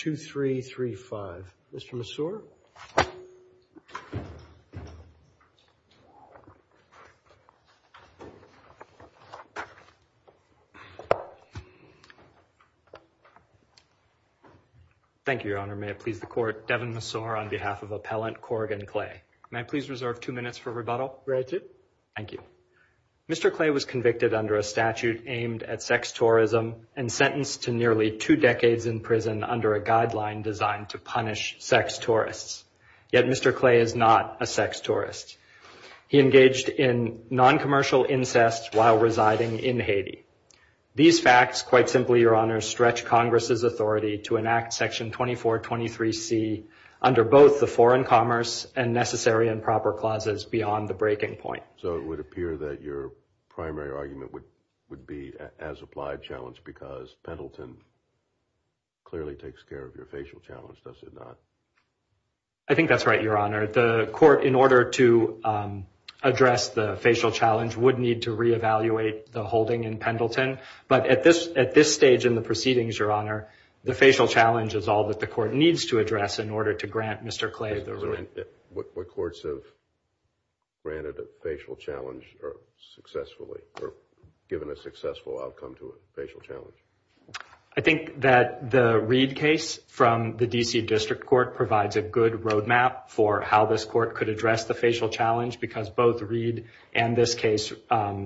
23-2335. Mr. Massour? Thank you, Your Honor. May it please the Court, Devin Massour on behalf of Appellant Corrigan Clay. May I please reserve two minutes for rebuttal? Granted. Thank you. Mr. Clay was convicted under a statute aimed at sex tourism and sentenced to nearly two decades in prison under a guideline designed to punish sex tourists. Yet Mr. Clay is not a sex tourist. He engaged in non-commercial incest while residing in Haiti. These facts, quite simply, Your Honor, stretch Congress's authority to enact Section 2423C under both the Foreign Commerce and Necessary and Proper Clauses beyond the breaking point. So it would appear that your primary argument as applied challenge because Pendleton clearly takes care of your facial challenge, does it not? I think that's right, Your Honor. The Court, in order to address the facial challenge, would need to reevaluate the holding in Pendleton. But at this stage in the proceedings, Your Honor, the facial challenge is all that the Court needs to address in order to grant Mr. given a successful outcome to a facial challenge. I think that the Reed case from the D.C. District Court provides a good roadmap for how this Court could address the facial challenge because both Reed and this case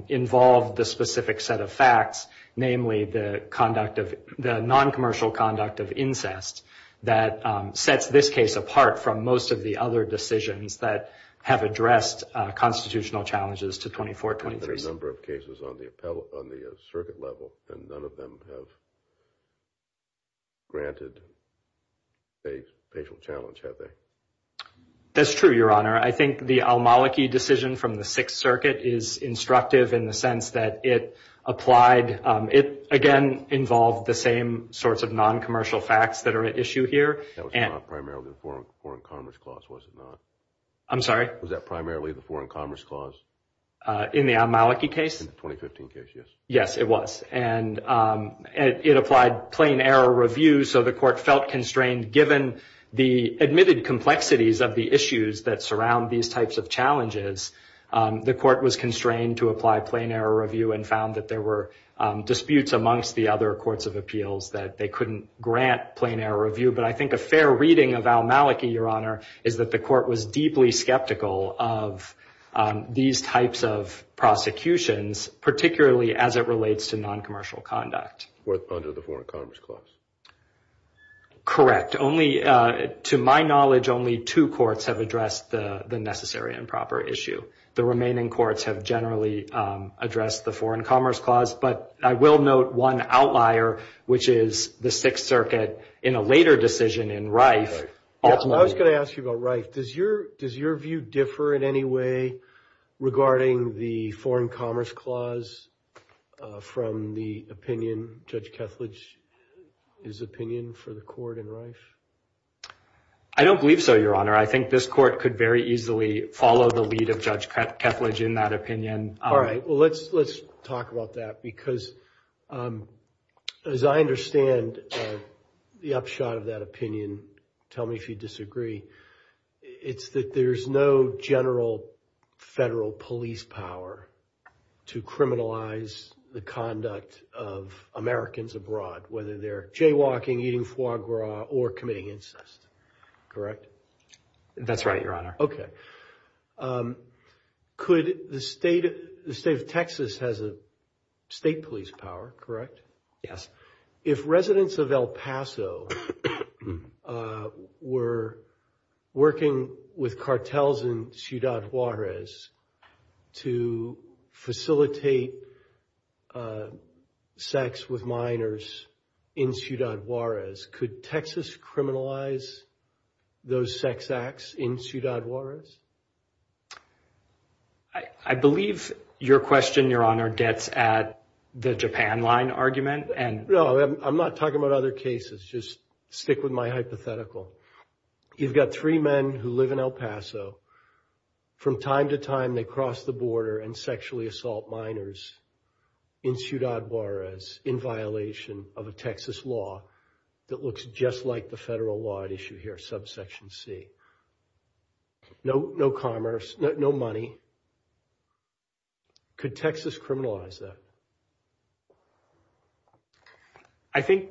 involve the specific set of facts, namely the conduct of the non-commercial conduct of incest that sets this case apart from most of the other decisions that have been made. There have been a number of cases on the circuit level and none of them have granted a facial challenge, have they? That's true, Your Honor. I think the Almolike decision from the Sixth Circuit is instructive in the sense that it applied, it, again, involved the same sorts of non-commercial facts that are at issue here. That was not primarily the Foreign Commerce Clause, was it not? I'm sorry? Was that primarily the Foreign Commerce Clause? In the Almolike case? In the 2015 case, yes. Yes, it was. And it applied plain error review, so the Court felt constrained given the admitted complexities of the issues that surround these types of challenges. The Court was constrained to apply plain error review and found that there were disputes amongst the other courts of appeals that they couldn't grant plain error review. But I think a fair reading of Almolike, Your Honor, is that the Court was deeply skeptical of these types of prosecutions, particularly as it relates to non-commercial conduct. Under the Foreign Commerce Clause? Correct. Only, to my knowledge, only two courts have addressed the necessary and proper issue. The remaining courts have generally addressed the Foreign Commerce Clause, but I will note one outlier, which is the Sixth Circuit in a later decision in Reif. I was going to ask you about Reif. Does your view differ in any way regarding the Foreign Commerce Clause from the opinion, Judge Kethledge's opinion, for the Court in Reif? I don't believe so, Your Honor. I think this Court could very easily follow the lead of Judge Kethledge in that opinion. All right. Well, let's talk about that, because as I understand the upshot of that and tell me if you disagree, it's that there's no general federal police power to criminalize the conduct of Americans abroad, whether they're jaywalking, eating foie gras, or committing incest. Correct? That's right, Your Honor. Okay. Could the state of Texas has a state police power, correct? Yes. If residents of El Paso were working with cartels in Ciudad Juarez to facilitate sex with minors in Ciudad Juarez, could Texas criminalize those sex acts in Ciudad Juarez? I believe your question, Your Honor, gets at the Japan Line argument. No, I'm not talking about other cases. Just stick with my hypothetical. You've got three men who live in El Paso. From time to time, they cross the border and sexually assault minors in Ciudad Juarez in violation of no commerce, no money. Could Texas criminalize that? I think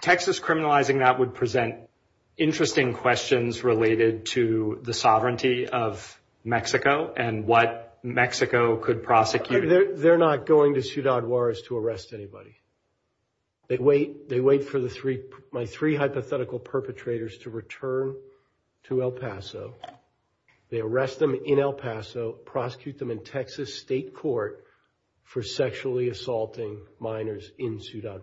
Texas criminalizing that would present interesting questions related to the sovereignty of Mexico and what Mexico could prosecute. They're not going to Ciudad Juarez to arrest anybody. They wait for my three hypothetical perpetrators to return to El Paso. They arrest them in El Paso, prosecute them in Texas state court for sexually assaulting minors in Ciudad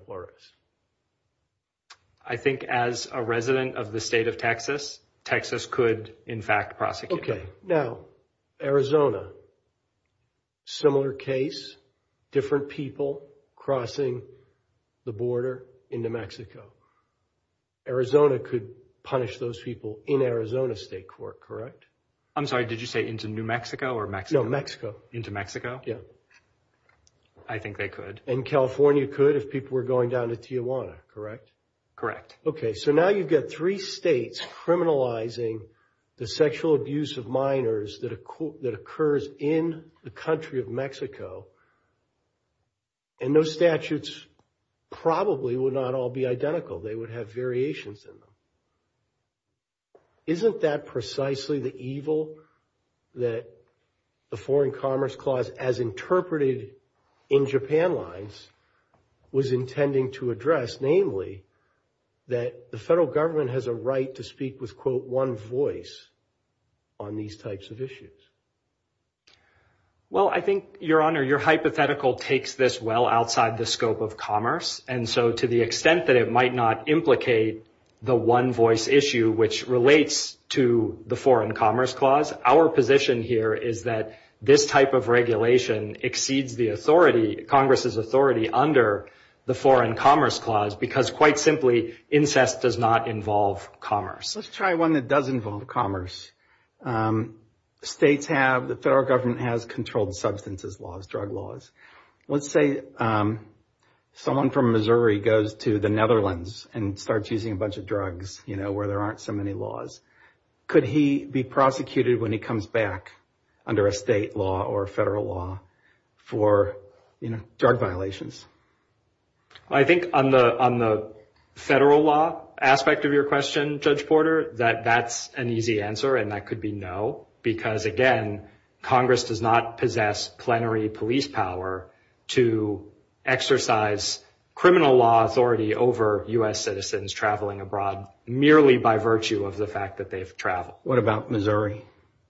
Juarez. I think as a resident of the state of Texas, Texas could, in fact, prosecute them. Okay. Now, Arizona. Similar case, different people crossing the border into Mexico. Arizona could punish those people in Arizona state court, correct? I'm sorry, did you say into New Mexico or Mexico? No, Mexico. Into Mexico? Yeah. I think they could. And California could if people were going down to Tijuana, correct? Correct. Okay, so now you've got three states criminalizing the sexual abuse of minors that occurs in the country of Mexico. And those statutes probably would not all be identical. They would have variations in them. Isn't that precisely the evil that the Foreign Commerce Clause, as interpreted in Japan lines, was intending to address? Namely, that the federal government has a right to speak with, quote, one voice on these types of issues. Well, I think, Your Honor, your hypothetical takes this well outside the scope of commerce. And so to the extent that it might not implicate the one voice issue, which relates to the Foreign Commerce Clause, our position here is that this type of regulation exceeds the authority, Congress's authority, under the Foreign Commerce Clause, because quite simply, incest does not involve commerce. Let's try one that does involve commerce. States have, the federal government has controlled substances laws, drug laws. Let's say someone from Missouri goes to the Netherlands and starts using a bunch of drugs, you know, where there aren't so many laws. Could he be prosecuted when he comes back under a state law or federal law for drug violations? I think on the federal law aspect of your question, Judge Porter, that that's an easy answer, and that could be no, because again, Congress does not possess plenary police power to exercise criminal law authority over U.S. citizens traveling abroad merely by virtue of the fact that they've traveled. What about Missouri?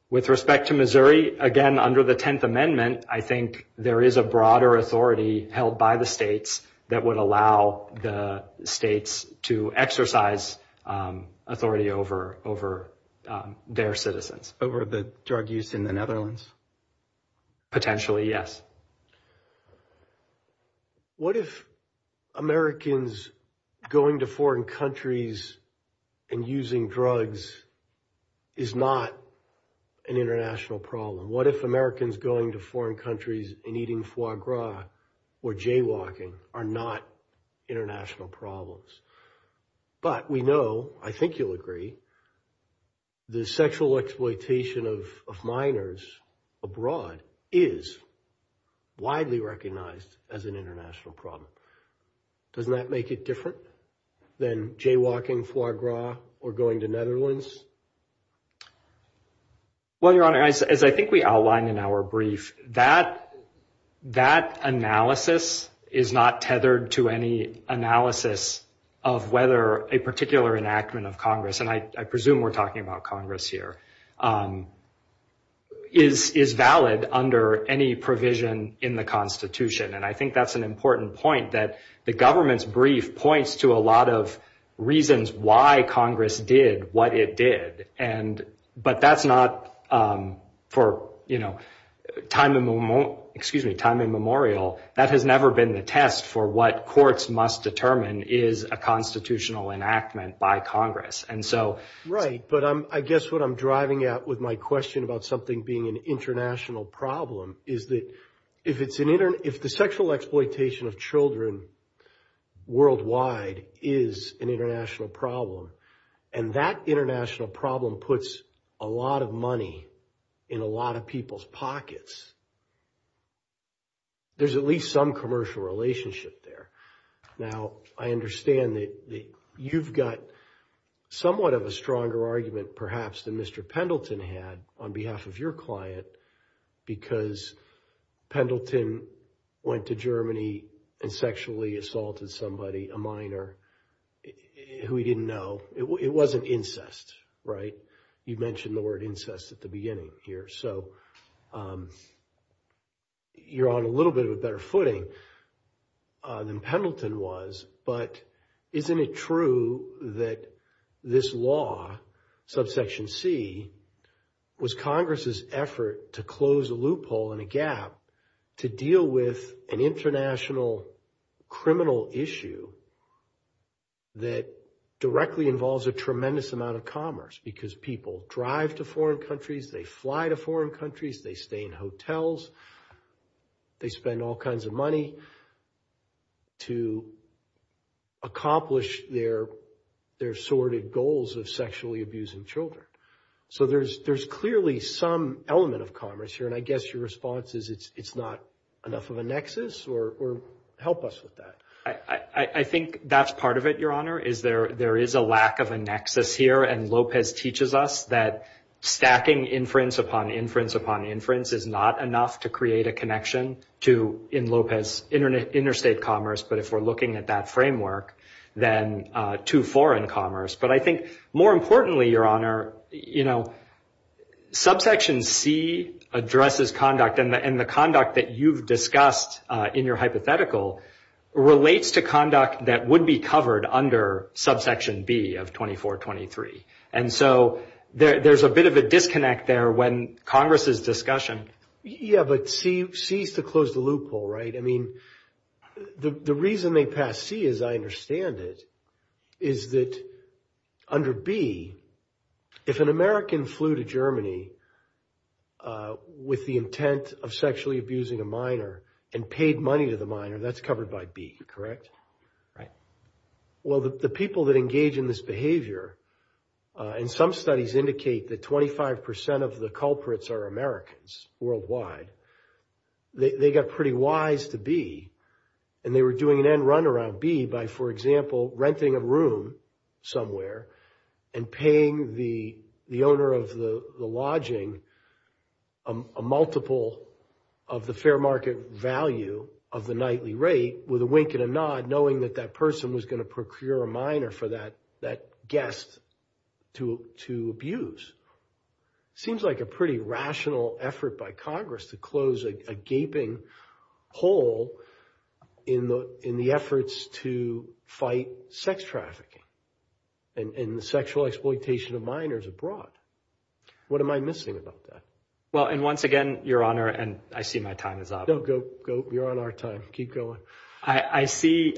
With respect to Missouri, again, under the Tenth Amendment, I think there is a broader authority held by the states that would allow the states to exercise authority over their citizens. Over the drug use in the Netherlands? Potentially, yes. What if Americans going to foreign countries and using drugs is not an international problem? What if Americans going to foreign countries and eating foie gras or jaywalking are not international recognized as an international problem? Doesn't that make it different than jaywalking, foie gras, or going to Netherlands? Well, Your Honor, as I think we outlined in our brief, that analysis is not tethered to any analysis of whether a particular enactment of Congress, and I presume we're talking about Congress here, is valid under any provision in the Constitution. I think that's an important point, that the government's brief points to a lot of reasons why Congress did what it did, but that's not for time immemorial. That has never been the test for what courts must But I guess what I'm driving at with my question about something being an international problem is that if the sexual exploitation of children worldwide is an international problem, and that international problem puts a lot of money in a lot of people's pockets, there's at least some perhaps than Mr. Pendleton had on behalf of your client, because Pendleton went to Germany and sexually assaulted somebody, a minor, who he didn't know. It wasn't incest, right? You mentioned the word incest at the beginning here. So you're on a little bit of a better footing than Pendleton was, but isn't it true that this law, subsection c, was Congress's effort to close a loophole and a gap to deal with an international criminal issue that directly involves a tremendous amount of commerce, because people drive to foreign countries, they fly to foreign countries, they stay in hotels, they spend all kinds of money to accomplish their sordid goals of sexually abusing children. So there's clearly some element of commerce here, and I guess your response is it's not enough of a nexus, or help us with that. I think that's part of it, Your Honor, is there is a lack of a nexus here, and Lopez teaches us that stacking inference upon inference upon inference is not enough to create a connection to, in Lopez, interstate commerce, but if we're looking at that framework, then to foreign commerce. But I think more importantly, Your Honor, you know, subsection c addresses conduct, and the conduct that you've discussed in your hypothetical relates to conduct that would be covered under subsection b of 2423. And so there's a bit of a disconnect there when Congress is discussing. Yeah, but c is to close the loophole, right? I mean, the reason they pass c, as I understand it, is that under b, if an American flew to Germany with the intent of sexually abusing a minor and paid money to the minor, that's covered by b, correct? Right. Well, the people that engage in this behavior, and some studies indicate that 25 of the culprits are Americans worldwide, they got pretty wise to b, and they were doing an end-run around b by, for example, renting a room somewhere and paying the owner of the lodging a multiple of the fair market value of the nightly rate with a wink and a nod, knowing that that person was going to procure a minor for that guest to abuse. Seems like a pretty rational effort by Congress to close a gaping hole in the efforts to fight sex trafficking and the sexual exploitation of minors abroad. What am I missing about that? Well, and once again, Your Honor, and I see my time is up. No, go, go. You're on our time. Keep going. I see,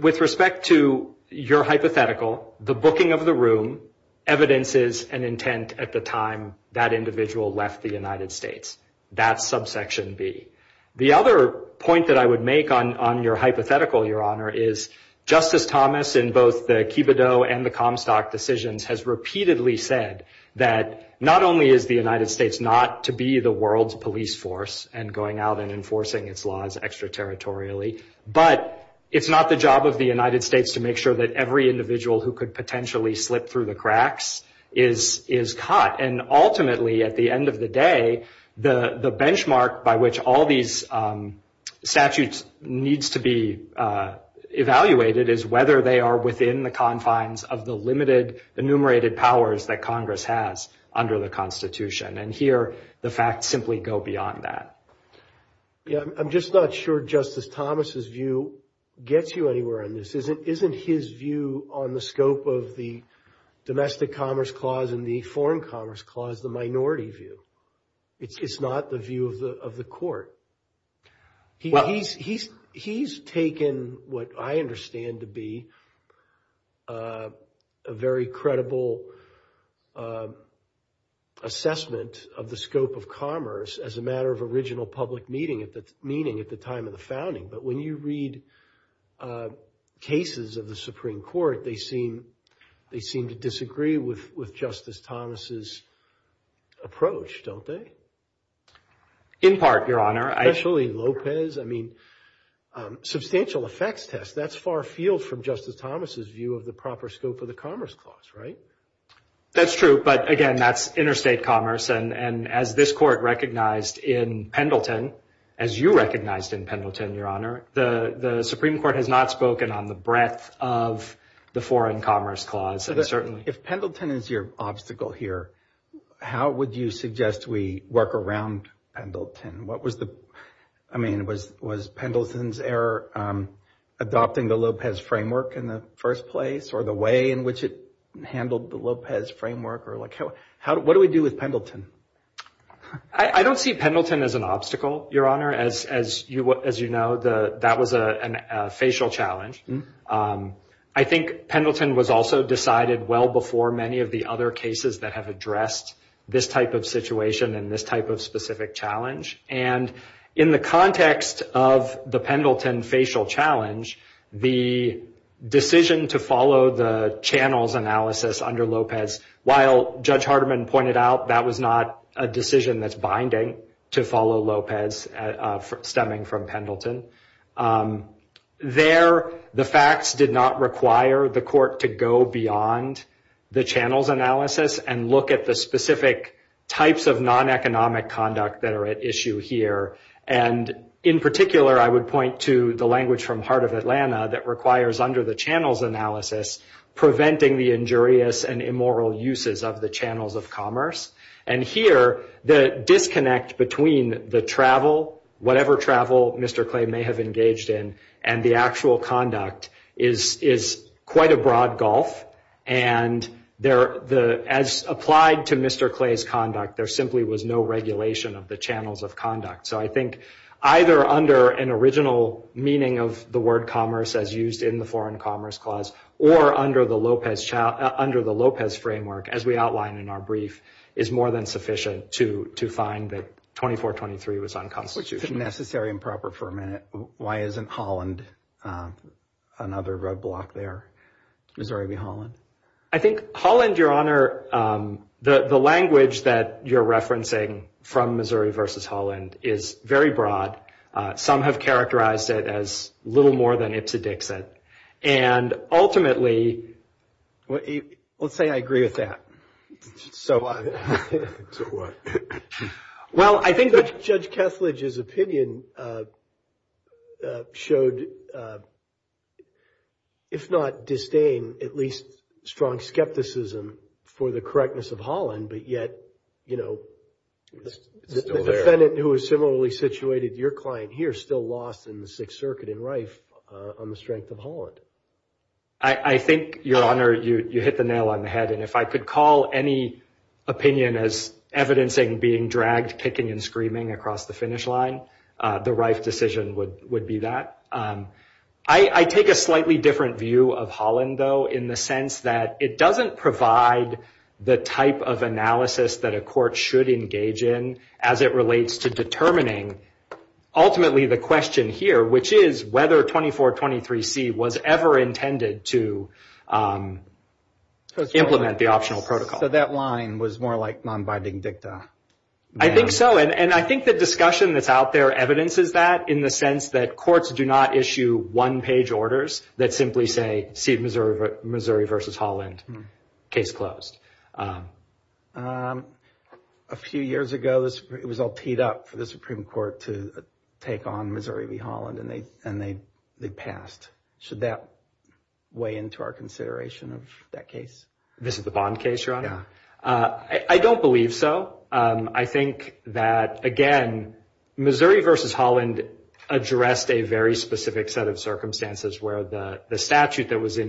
with respect to your hypothetical, the booking of the room evidences an intent at the time that individual left the United States. That's subsection b. The other point that I would make on your hypothetical, Your Honor, is Justice Thomas, in both the Kibidoh and the Comstock decisions, has repeatedly said that not only is the United States not to be the world's police force and going out and enforcing its laws extraterritorially, but it's not the job of the United States to make sure that every individual who could potentially slip through the cracks is caught. And ultimately, at the end of the day, the benchmark by which all these statutes needs to be evaluated is whether they are within the confines of the limited, enumerated powers that Congress has under the Constitution. And here, the facts simply go beyond that. Yeah, I'm just not sure Justice Thomas's view gets you anywhere on this. Isn't his view on the scope of the Domestic Commerce Clause and the Foreign Commerce Clause the minority view? It's not the view of the Court. He's taken what I understand to be a very credible assessment of the scope of commerce as a matter of original public meeting at the time of the Supreme Court. They seem to disagree with Justice Thomas's approach, don't they? In part, Your Honor. Especially Lopez. I mean, substantial effects test. That's far afield from Justice Thomas's view of the proper scope of the Commerce Clause, right? That's true. But again, that's interstate commerce. And as this Court recognized in Pendleton, as you recognized in Pendleton, Your Honor, the Supreme Court has not spoken on the breadth of the Foreign Commerce Clause, certainly. If Pendleton is your obstacle here, how would you suggest we work around Pendleton? I mean, was Pendleton's error adopting the Lopez Framework in the first place or the way in which it handled the Lopez Framework? What do we do with Pendleton? I don't see Pendleton as an obstacle, Your Honor. As you know, that was a facial challenge. I think Pendleton was also decided well before many of the other cases that have addressed this type of situation and this type of specific challenge. And in the context of the Pendleton facial challenge, the decision to follow the channels analysis under Lopez, while Judge Hardeman pointed out that was not a decision that's binding to follow Lopez stemming from Pendleton. There, the facts did not require the Court to go beyond the channels analysis and look at the specific types of non-economic conduct that are at issue here. And in particular, I would point to the language from Heart of Atlanta that requires under the channels analysis, preventing the injurious and immoral uses of the channels of commerce. And here, the disconnect between the travel, whatever travel Mr. Clay may have engaged in, and the actual conduct is quite a broad gulf. And as applied to Mr. Clay's conduct, there simply was no regulation of the channels of conduct. So I think either under an original meaning of the word commerce as used in the Foreign Commerce Clause or under the Lopez Framework, as we more than sufficient to find that 2423 was unconstitutional. Necessary and proper for a minute. Why isn't Holland another roadblock there? Missouri v. Holland. I think Holland, Your Honor, the language that you're referencing from Missouri versus Holland is very broad. Some have characterized it as little more than it's a Dixit. And ultimately... Let's say I agree with that. Well, I think Judge Kesslidge's opinion showed, if not disdain, at least strong skepticism for the correctness of Holland. But yet, the defendant who was similarly situated, your client here, still lost in the Sixth Circuit in Rife on the strength of Holland. I think, Your Honor, you hit the nail on the head. And if I could call any opinion as evidencing being dragged, kicking, and screaming across the finish line, the Rife decision would be that. I take a slightly different view of Holland, though, in the sense that it doesn't provide the type of analysis that a court should engage in as it relates to determining, ultimately, the question here, which is whether 2423C was ever intended to implement the optional protocol. So that line was more like non-binding dicta? I think so. And I think the discussion that's out there evidences that, in the sense that courts do not issue one-page orders that simply say, see Missouri v. Holland, case closed. A few years ago, it was all teed up for the Supreme Court to take on Missouri v. Holland, and they passed. Should that weigh into our consideration of that case? This is the Bond case, Your Honor? I don't believe so. I think that, again, Missouri v. Holland addressed a very specific set of circumstances where the statute that was in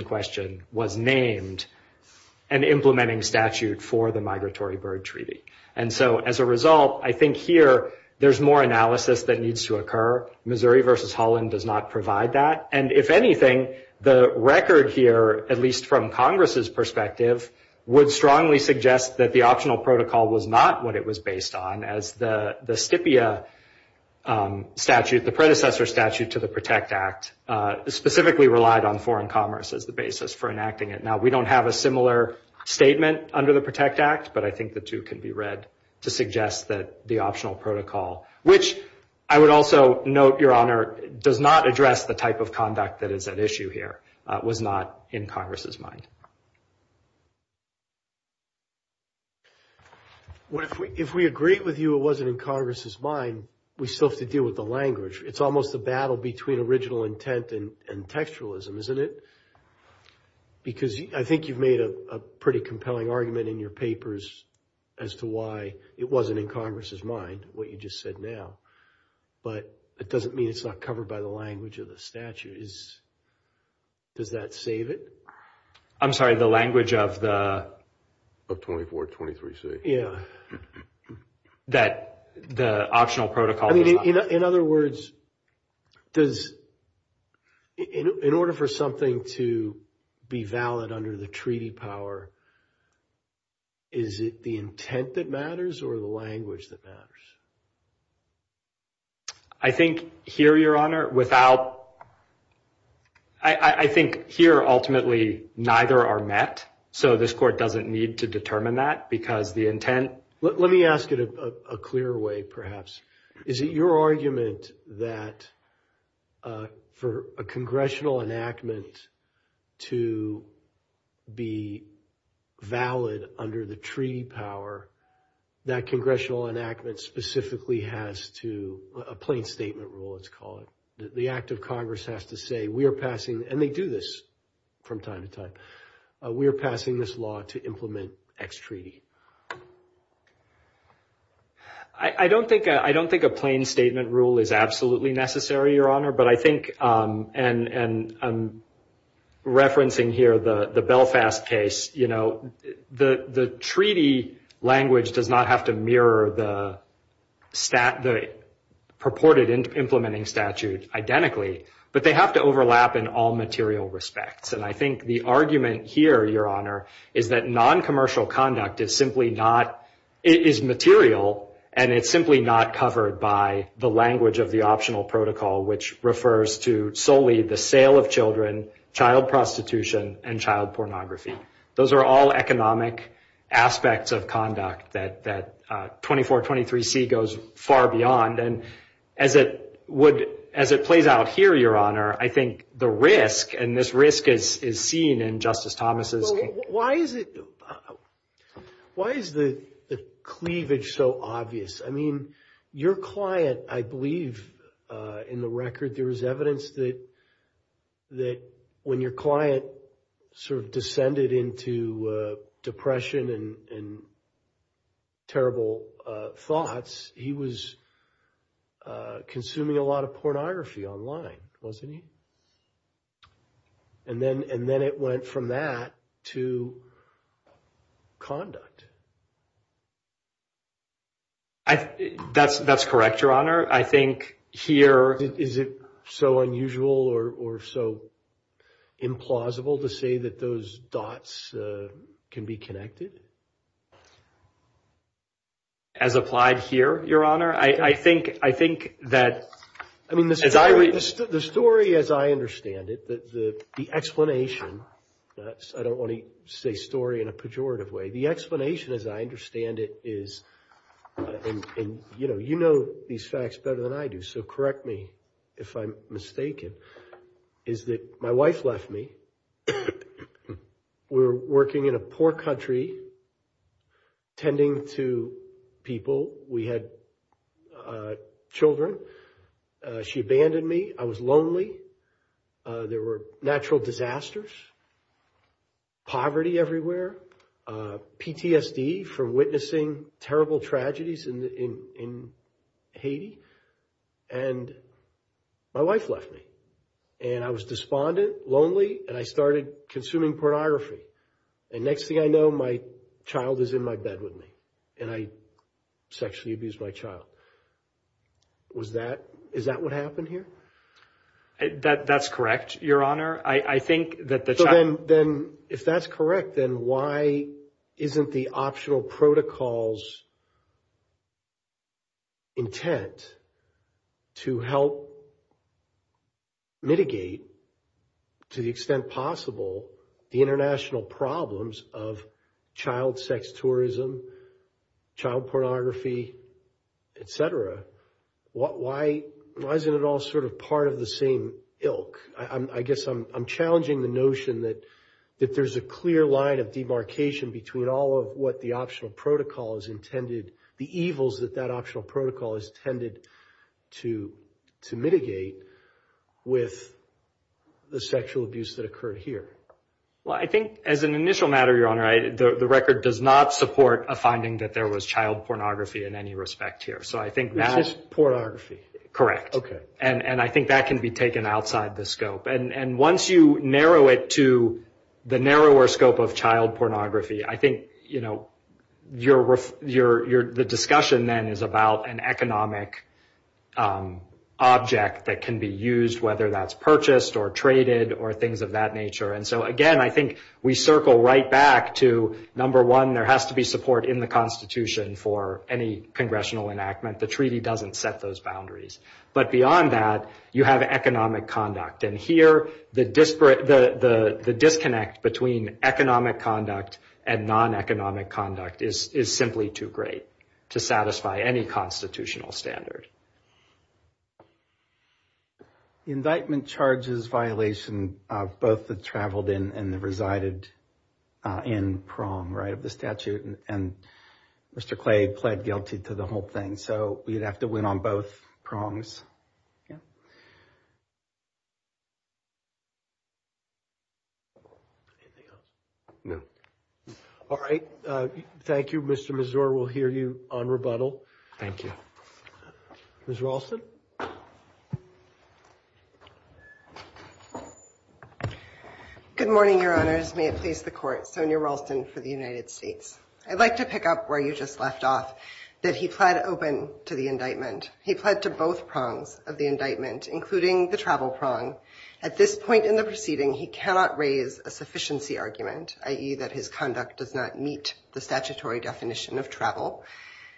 statute for the Migratory Bird Treaty. And so, as a result, I think here, there's more analysis that needs to occur. Missouri v. Holland does not provide that. And if anything, the record here, at least from Congress's perspective, would strongly suggest that the optional protocol was not what it was based on, as the STPIA statute, the predecessor statute to the PROTECT Act, specifically relied on foreign commerce as the basis for enacting it. Now, we don't have a under the PROTECT Act, but I think the two can be read to suggest that the optional protocol, which I would also note, Your Honor, does not address the type of conduct that is at issue here, was not in Congress's mind. If we agreed with you it wasn't in Congress's mind, we still have to deal with the language. It's almost a battle between original intent and argument in your papers as to why it wasn't in Congress's mind, what you just said now. But it doesn't mean it's not covered by the language of the statute. Does that save it? I'm sorry, the language of the 2423C? Yeah. That the optional protocol... In other words, in order for something to be valid under the treaty power, is it the intent that matters or the language that matters? I think here, Your Honor, without... I think here, ultimately, neither are met, so this court doesn't need to determine that because the intent... Let me ask it a clear way, perhaps. Is it your argument that for a congressional enactment to be valid under the treaty power, that congressional enactment specifically has to... A plain statement rule, let's call it. The act of Congress has to say, we are passing... And they do this from time to time. We are passing this law to implement X treaty. I don't think a plain statement rule is absolutely necessary, Your Honor, but I think... And I'm referencing here the Belfast case. The treaty language does not have to mirror the purported implementing statute identically, but they have to overlap in all material respects. And I think the argument here, Your Honor, is that non-commercial conduct is not a matter of simply not... It is material, and it's simply not covered by the language of the optional protocol, which refers to solely the sale of children, child prostitution, and child pornography. Those are all economic aspects of conduct that 2423C goes far beyond. And as it plays out here, Your Honor, I think the risk, and this risk is seen in Justice Thomas's... Why is it... Why is the cleavage so obvious? I mean, your client, I believe, in the record, there was evidence that when your client sort of descended into depression and terrible thoughts, he was consuming a lot of pornography online, wasn't he? And then it went from that to conduct. That's correct, Your Honor. I think here... Is it so unusual or so implausible to say that those dots can be connected? As applied here, Your Honor? I think that... The story, as I understand it, the explanation... I don't want to say story in a pejorative way. The explanation, as I understand it, is... And you know these facts better than I do, so correct me if I'm mistaken, is that my wife left me. We were working in a poor country, tending to people. We had children. She abandoned me. I was lonely. There were natural disasters, poverty everywhere, PTSD from witnessing terrible tragedies in Haiti. And my wife left me. And I was despondent, lonely, and I started consuming pornography. And next thing I know, child is in my bed with me. And I sexually abused my child. Is that what happened here? That's correct, Your Honor. I think that... Then if that's correct, then why isn't the optional protocols intent to help mitigate, to the extent possible, the international problems of child sex tourism, child pornography, etc.? Why isn't it all sort of part of the same ilk? I guess I'm challenging the notion that if there's a clear line of demarcation between all of what the optional protocol is intended... The evils that that optional protocol is intended to mitigate with the sexual abuse that occurred here. Well, I think as an initial matter, Your Honor, the record does not support a finding that there was child pornography in any respect here. So, I think that's... This is pornography. Correct. Okay. And I think that can be taken outside the scope. And once you narrow it to the narrower scope of child pornography, I think the discussion then is about an economic object that can be used, whether that's purchased or traded or things of that nature. And so, again, I think we circle right back to, number one, there has to be support in the Constitution for any congressional enactment. The treaty doesn't set those boundaries. But beyond that, you have economic conduct. And here, the disconnect between economic conduct and non-economic conduct is simply too great to satisfy any constitutional standard. Invitement charges violation, both the traveled in and the resided in prong, right, of the statute. And Mr. Clay pled guilty to the whole thing. So, we'd have to win on both prongs. All right. Thank you. Mr. Mazur, we'll hear you on rebuttal. Thank you. Ms. Ralston. Good morning, Your Honors. May it please the Court. Sonya Ralston for the United States. I'd like to pick up where you just left off, that he pled open to the indictment. He pled to both prongs of the indictment, including the travel prong. At this point in the proceeding, he cannot raise a sufficiency argument, i.e., that his conduct does not meet the statutory definition of travel.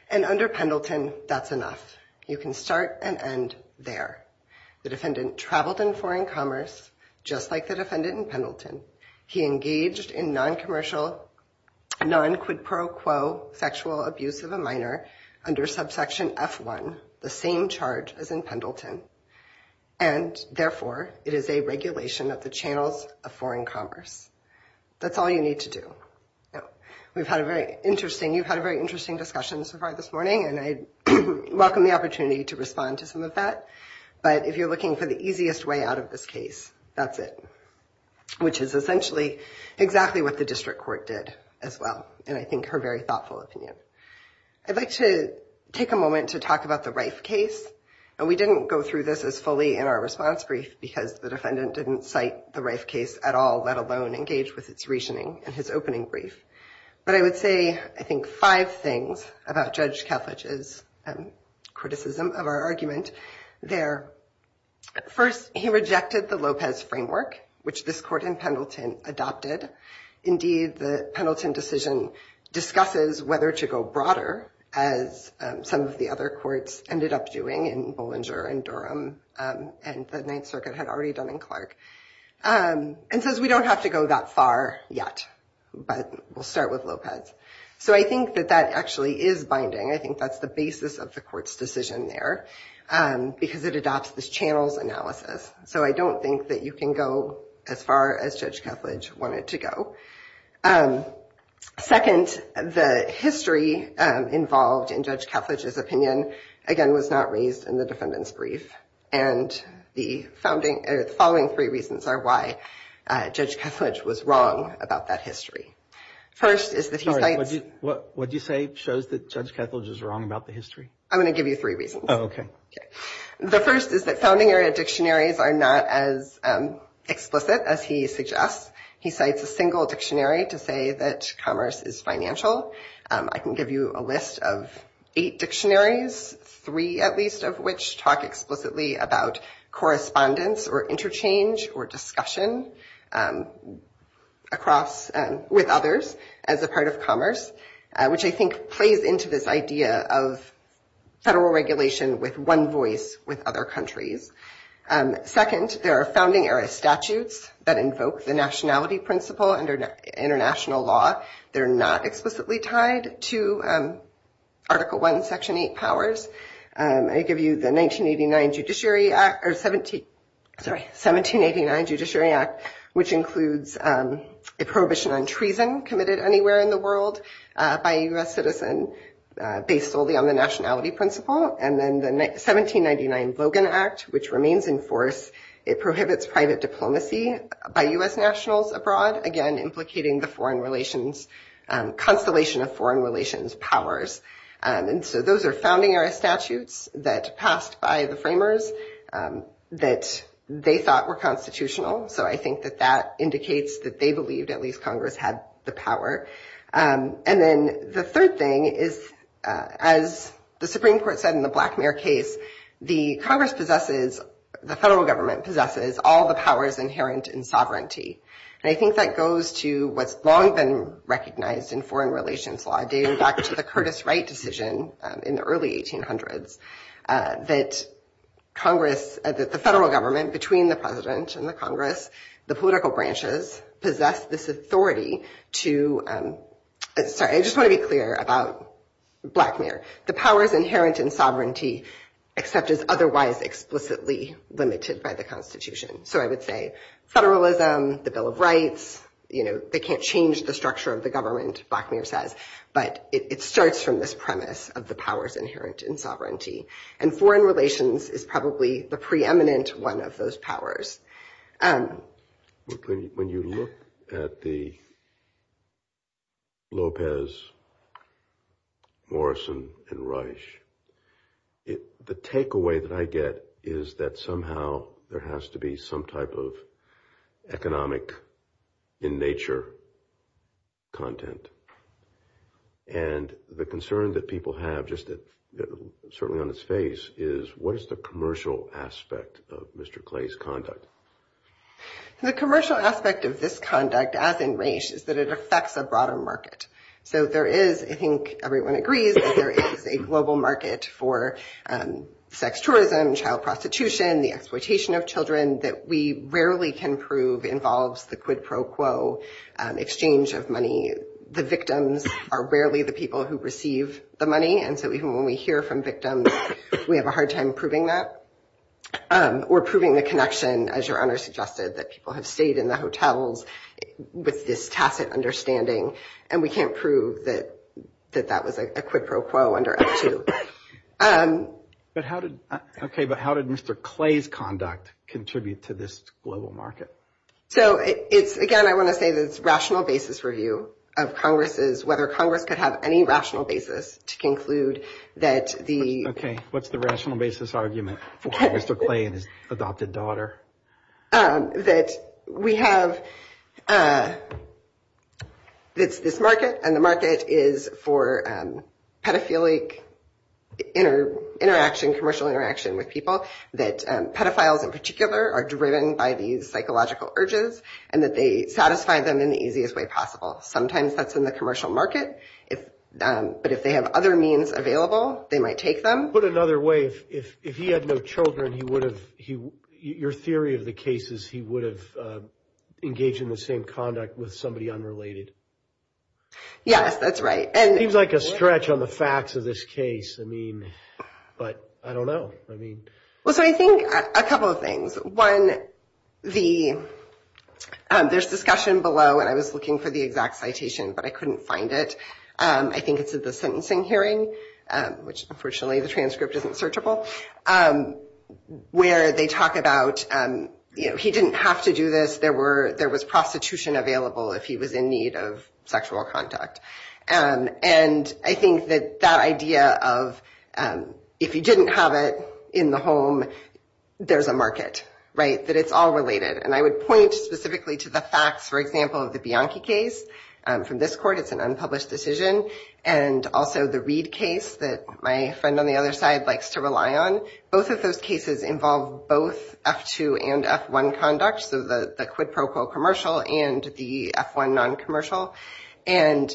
And under Pendleton, that's enough. You can start and end there. The defendant traveled in foreign commerce, just like the defendant in Pendleton. He engaged in non-commercial, non-quid pro quo sexual abuse of a minor under subsection F1, the same charge as in Pendleton. And therefore, it is a regulation of the channels of foreign commerce. That's all you need to do. We've had a very interesting, you've had a very interesting discussion so far this morning, and I welcome the opportunity to respond to some of that. But if you're looking for the easiest way to get out of this case, that's it, which is essentially exactly what the district court did as well, and I think her very thoughtful opinion. I'd like to take a moment to talk about the Rice case. And we didn't go through this as fully in our response brief, because the defendant didn't cite the Rice case at all, let alone engage with its reasoning in his opening brief. But I would like to say, I think, five things about Judge Kalfich's criticism of our argument there. First, he rejected the Lopez framework, which this court in Pendleton adopted. Indeed, the Pendleton decision discusses whether to go broader, as some of the other courts ended up doing in Bollinger and Durham, and the Ninth Circuit had already done in Clark. And says we don't have to go that far yet, but we'll start with Lopez. So I think that that actually is binding. I think that's the basis of the court's decision there, because it adopts this channels analysis. So I don't think that you can go as far as Judge Kalfich wanted to go. Second, the history involved in Judge Kalfich's opinion, again, was not raised in the defendant's brief. And the following three reasons are why Judge Kalfich was wrong about that history. First, is that he cites... Sorry, what did you say shows that Judge Kalfich is wrong about the history? I'm going to give you three reasons. Oh, okay. The first is that founding area dictionaries are not as explicit as he suggests. He cites a single dictionary to say that commerce is financial. I can give you a list of eight dictionaries, three at least of which talk explicitly about correspondence, or interchange, or discussion with others as a part of commerce, which I think plays into this idea of federal regulation with one voice with other countries. Second, there are founding era statutes that invoke the nationality principle under international law. They're not explicitly tied to Article I, Section 8 powers. I give you the 1789 Judiciary Act, which includes a prohibition on treason committed anywhere in the world by a U.S. citizen based solely on the nationality principle. And then the 1799 Logan Act, which remains in force. It prohibits private diplomacy by U.S. nationals abroad, again, implicating the foreign relations, constellation of foreign relations powers. And so those are founding era statutes that passed by the framers that they thought were constitutional. So I think that that indicates that they believed at least Congress had the power. And then the third thing is, as the Supreme Court said in the Blackmare case, the Congress possesses, the federal government possesses all the powers inherent in sovereignty. And I think that goes to what's long been recognized in foreign relations law, dating back to the Curtis Wright decision in the early 1800s, that Congress, the federal government between the president and the Congress, the political branches, possess this authority to... Sorry, I just want to be clear about Blackmare. The powers inherent in sovereignty except as otherwise explicitly limited by the constitution. So I would say federalism, the Bill of Rights, they can't change the structure of the government, Blackmare says, but it starts from this premise of the powers inherent in sovereignty. And foreign relations is probably the preeminent one of those powers. And when you look at the Lopez, Morrison, and Reich, the takeaway that I get is that somehow there has to be some type of economic in nature content. And the concern that people have just certainly on its face is what is the commercial aspect of Mr. Clay's conduct? The commercial aspect of this conduct as in race is that it affects the broader market. So there is, I think everyone agrees, there is a global market for sex tourism, child prostitution, the exploitation of children that we rarely can prove involves the quid pro quo exchange of money. The victims are rarely the people who receive the money. And so even when we hear from victims, we have a hard time proving that or proving the connection, as your honor suggested, that people have stayed in the hotels with this tacit understanding. And we can't prove that that was a quid pro quo under us too. But how did Mr. Clay's conduct contribute to this global market? So it's, again, I want to say this rational basis review of Congress's, whether Congress could have any rational basis to conclude that the... Okay, what's the rational basis argument for Mr. Clay and his adopted daughter? That we have this market and the market is for pedophilic interaction, commercial interaction with people that pedophiles in particular are driven by these psychological urges and that they satisfy them in the easiest way possible. Sometimes that's in the commercial market. But if they have other means available, they might take them. Put another way, if he had no children, he would have, your theory of the case is he would have engaged in the same conduct with somebody unrelated. Yes, that's right. And... It seems like a stretch on the facts of this case. I mean, but I don't know. I mean... Well, so I think a couple of things. One, there's discussion below and I was looking for the exact citation, but I couldn't find it. I think it's in the sentencing hearing, which unfortunately the transcript isn't searchable, where they talk about, you know, he didn't have to do this. There was prostitution available if he was in need of sexual contact. And I think that that idea of if you didn't have it in the home, there's a market, right? That it's all related. And I would point specifically to the facts, for example, of the Bianchi case. From this court, it's an unpublished decision. And also the Reed case that my friend on the other side likes to rely on. Both of those cases involve both F2 and F1 conduct, the quid pro quo commercial and the F1 non-commercial. And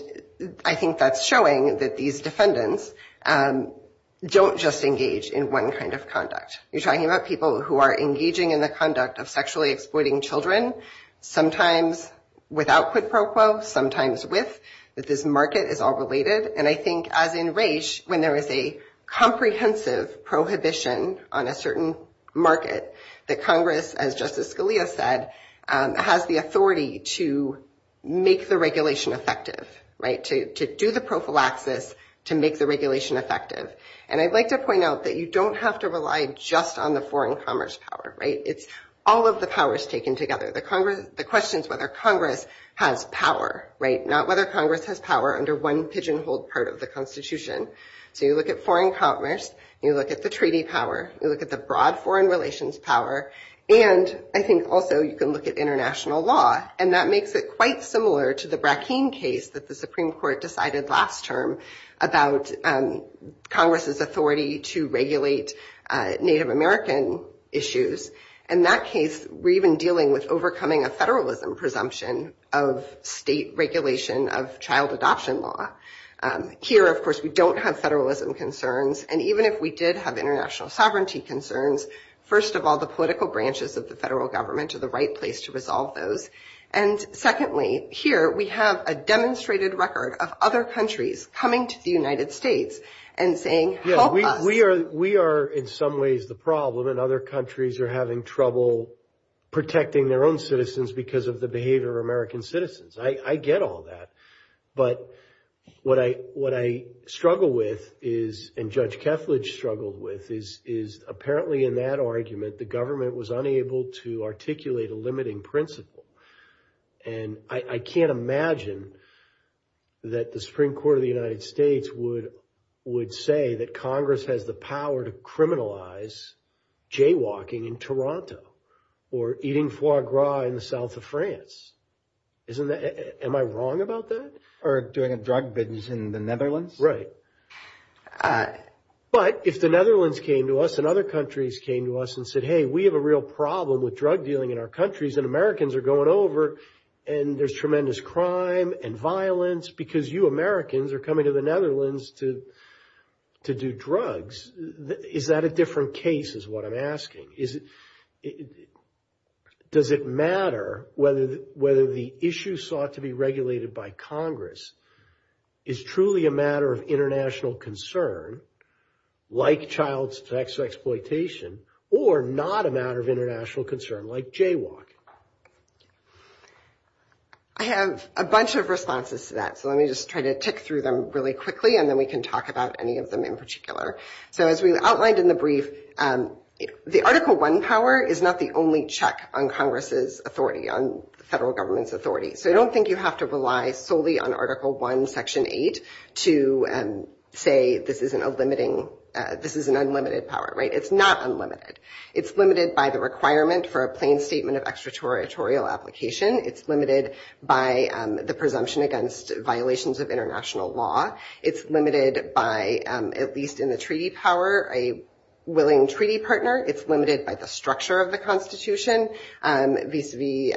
I think that's showing that these defendants don't just engage in one kind of conduct. You're talking about people who are engaging in the conduct of sexually exploiting children, sometimes without quid pro quo, sometimes with. This market is all related. And I think as in this market, the Congress, as Justice Scalia said, has the authority to make the regulation effective, right? To do the prophylaxis, to make the regulation effective. And I'd like to point out that you don't have to rely just on the foreign commerce power, right? It's all of the powers taken together. The question is whether Congress has power, right? Not whether Congress has power under one pigeonhole part of the Constitution. So you look at foreign commerce, you look at the treaty power, you look at the broad foreign relations power, and I think also you can look at international law. And that makes it quite similar to the Brackeen case that the Supreme Court decided last term about Congress's authority to regulate Native American issues. In that case, we're even dealing with overcoming a federalism presumption of state regulation of the United States. So even if we did have international sovereignty concerns, first of all, the political branches of the federal government are the right place to resolve those. And secondly, here we have a demonstrated record of other countries coming to the United States and saying, help us. We are in some ways the problem, and other countries are having trouble protecting their own citizens because of the behavior of American citizens. I get all that. But what I struggle with is, and Judge Kethledge struggled with, is apparently in that argument, the government was unable to articulate a limiting principle. And I can't imagine that the Supreme Court of the United States would say that Congress has the power to criminalize jaywalking in Toronto or eating foie gras in the south of France. Am I wrong about that? Or doing a drug business in the Netherlands? Right. But if the Netherlands came to us and other countries came to us and said, hey, we have a real problem with drug dealing in our countries, and Americans are going over, and there's tremendous crime and violence because you Americans are coming to the Netherlands to do drugs, is that a different case, is what I'm asking? Does it matter whether the issue sought to be regulated by Congress is truly a matter of international concern, like child sex exploitation, or not a matter of international concern, like jaywalking? I have a bunch of responses to that. So let me just try to tick through them really quickly, and then we can talk about any of them in particular. So as we outlined in the brief, the Article 1 power is not the only check on Congress's authority, on federal government's authority. So I don't think you have to rely solely on Article 1, Section 8, to say this isn't a limiting, this is an unlimited power, right? It's not unlimited. It's limited by the requirement for a plain statement of extraterritorial application. It's limited by the presumption against violations of international law. It's limited by, at least in the treaty power, a willing treaty partner. It's limited by the structure of the Constitution, vis-a-vis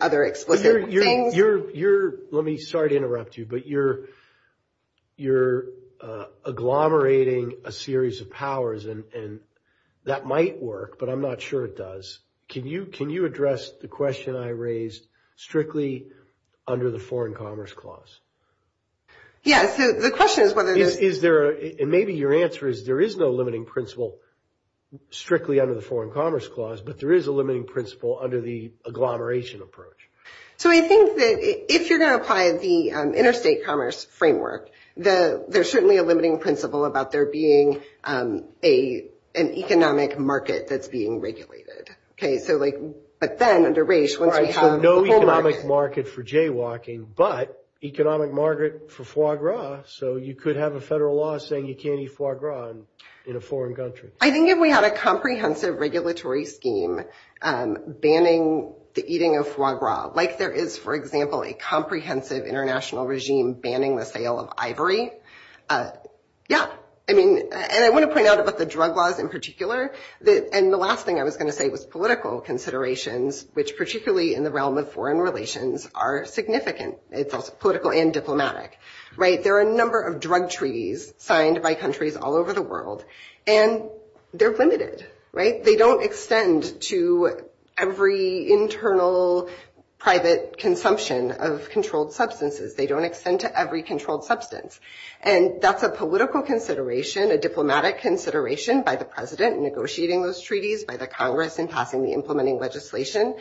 other explicit things. You're – let me – sorry to interrupt you, but you're agglomerating a series of powers, and that might work, but I'm not sure it does. Can you address the question I raised strictly under the Foreign Commerce Clause? Yeah, so the question is whether – Is there – and maybe your answer is, there is no limiting principle strictly under the Foreign Commerce Clause, but there is a limiting principle under the agglomeration approach. So I think that if you're going to apply the interstate commerce framework, there shouldn't be a limiting principle about there being an economic market that's being regulated. So like – but then, under race, once you have a global market – All right, so no economic market for jaywalking, but economic market for foie gras, so you could have a federal law saying you can't eat foie gras in a foreign country. I think if we had a comprehensive regulatory scheme banning the eating of foie gras, like there is, for example, a comprehensive international regime banning the sale of ivory, yeah. I mean – and I want to point out about the drug laws in particular, and the last thing I was going to say was political considerations, which particularly in the realm of foreign relations are significant. It's both political and diplomatic, right? There are a number of drug treaties signed by countries all over the world, and they're limited, right? They don't extend to every internal private consumption of controlled substances. They don't extend to every controlled substance, and that's a political consideration, a diplomatic consideration by the president in negotiating those treaties, by the Congress in passing the implementing legislation.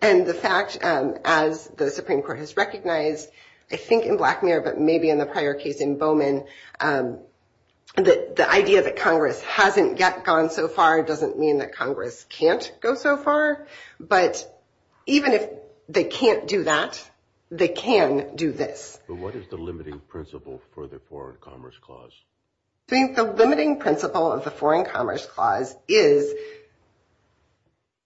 And the fact, as the Supreme Court has recognized, I think in Black Mirror, but maybe in the prior case in Bowman, that the idea that Congress hasn't gone so far doesn't mean that Congress can't go so far, but even if they can't do that, they can do this. But what is the limiting principle for the Foreign Commerce Clause? I think the limiting principle of the Foreign Commerce Clause is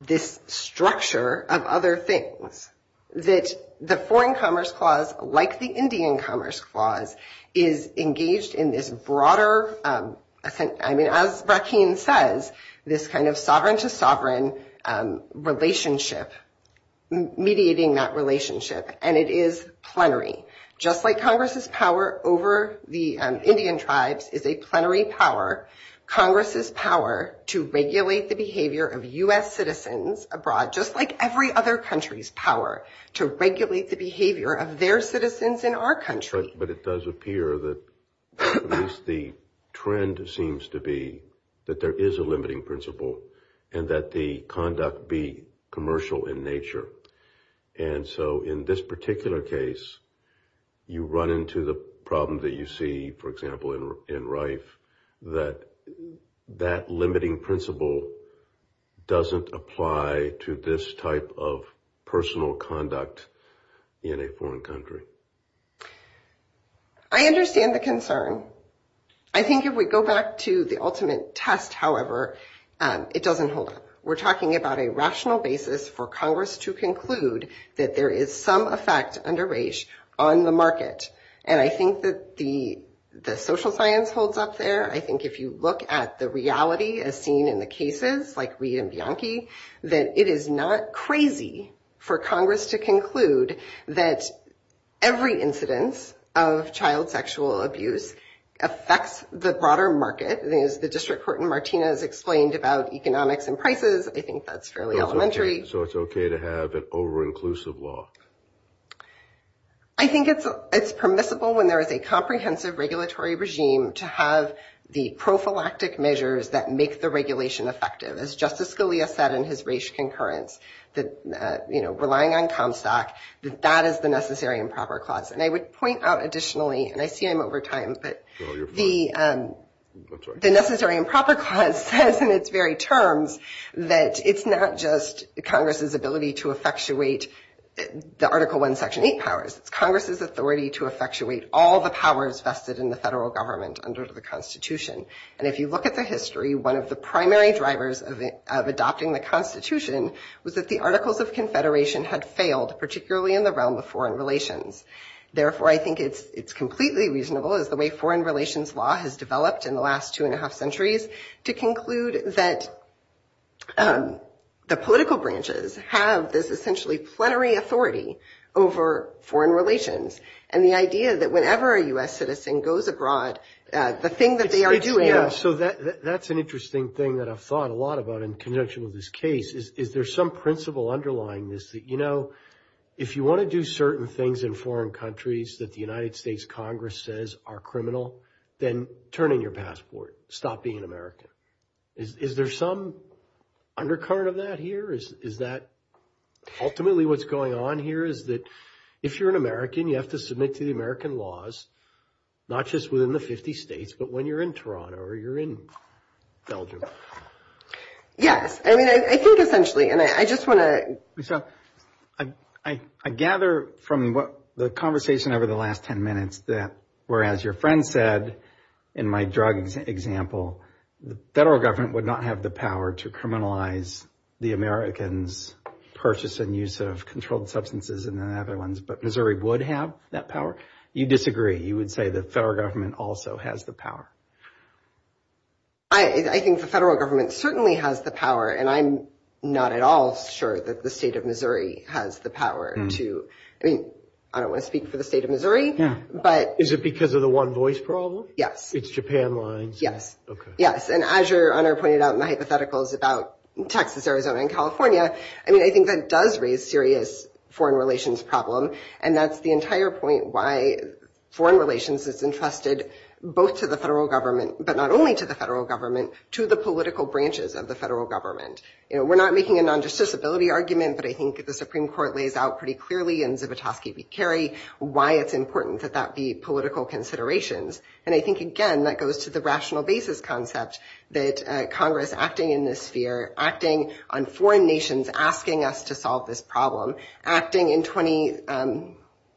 this structure of other things, that the Foreign Commerce Clause, like the Indian Commerce Clause, is engaged in this broader – I mean, as Rakeen says, this kind of sovereign-to-sovereign relationship, mediating that relationship, and it is plenary. Just like Congress's power over the Indian tribes is a plenary power, Congress's power to regulate the behavior of U.S. citizens abroad, just like every other country's power, to regulate the behavior of their citizens in our country. But it does appear that at least the trend seems to be that there is a limiting principle, and that the conduct be commercial in nature. And so in this particular case, you run into the problem that you see, for example, in RIFE, that that limiting principle doesn't apply to this type of personal conduct in a foreign country. I understand the concern. I think if we go back to the ultimate test, however, it doesn't hold. We're talking about a rational basis for Congress to conclude that there is some effect under RAGE on the market. And I think that the social science holds up there. I think if you look at the reality as seen in the cases, like Lee and Bianchi, that it is not crazy for Congress to conclude that every incident of child sexual abuse affects the broader market. As the District Court in Martinez explained about economics and prices, I think that's fairly elementary. So it's okay to have an over-inclusive law? I think it's permissible when there is a comprehensive regulatory regime to have the prophylactic measures that make the regulation effective. As Justice Scalia said in his RAGE concurrence, relying on CompSAC, that is the necessary and proper clause. And I would point out additionally, and I see him over time, that the necessary and proper clause says in its very terms that it's not just Congress's ability to effectuate the Article I, Section 8 powers. Congress's authority to effectuate all the powers vested in the federal government under the Constitution. And if you look at the history, one of the primary drivers of adopting the Constitution was that the Articles of Confederation had failed, particularly in the realm of foreign relations. Therefore, I think it's completely reasonable, as the way foreign relations law has developed in the last two and a half centuries, to conclude that the political branches have this essentially plenary authority over foreign relations. And the idea that whenever a U.S. citizen goes abroad, the thing that they are doing... Yeah, so that's an interesting thing that I've thought a lot about in conjunction with this case. Is there some principle underlying this that, you know, if you want to do certain things in foreign countries that the United States Congress says are criminal, then turn in your passport. Stop being American. Is there some undercurrent of that here? Is that ultimately what's going on here? Is that if you're an American, you have to submit to the American laws not just within the 50 states, but when you're in Toronto or you're in Belgium. Yes. I mean, I think essentially, and I just want to... I gather from the conversation over the last 10 minutes that whereas your friend said, in my drug example, the federal government would not have the power to criminalize the Americans' purchase and use of controlled substances and other ones, but Missouri would have that power. You disagree. You would say the federal government also has the power. I think the federal government certainly has the power, and I'm not at all sure that the state of Missouri has the power to... I mean, I don't want to speak for the state of Missouri, but... Is it because of the one voice problem? Yes. It's Japan lines? Yes. Yes. And as your honor pointed out in the hypotheticals about Texas, Arizona, and California, I mean, I think that does raise serious foreign relations problem, and that's the entire point why foreign relations is entrusted both to the federal government, but not only to the federal government, to the political branches of the federal government. We're not making a non-justiciability argument, but I think the Supreme Court lays out pretty clearly in Zivotofsky v. Kerry why it's important that that be political considerations, and I think, again, that goes to the rational basis concept that Congress acting in this sphere, acting on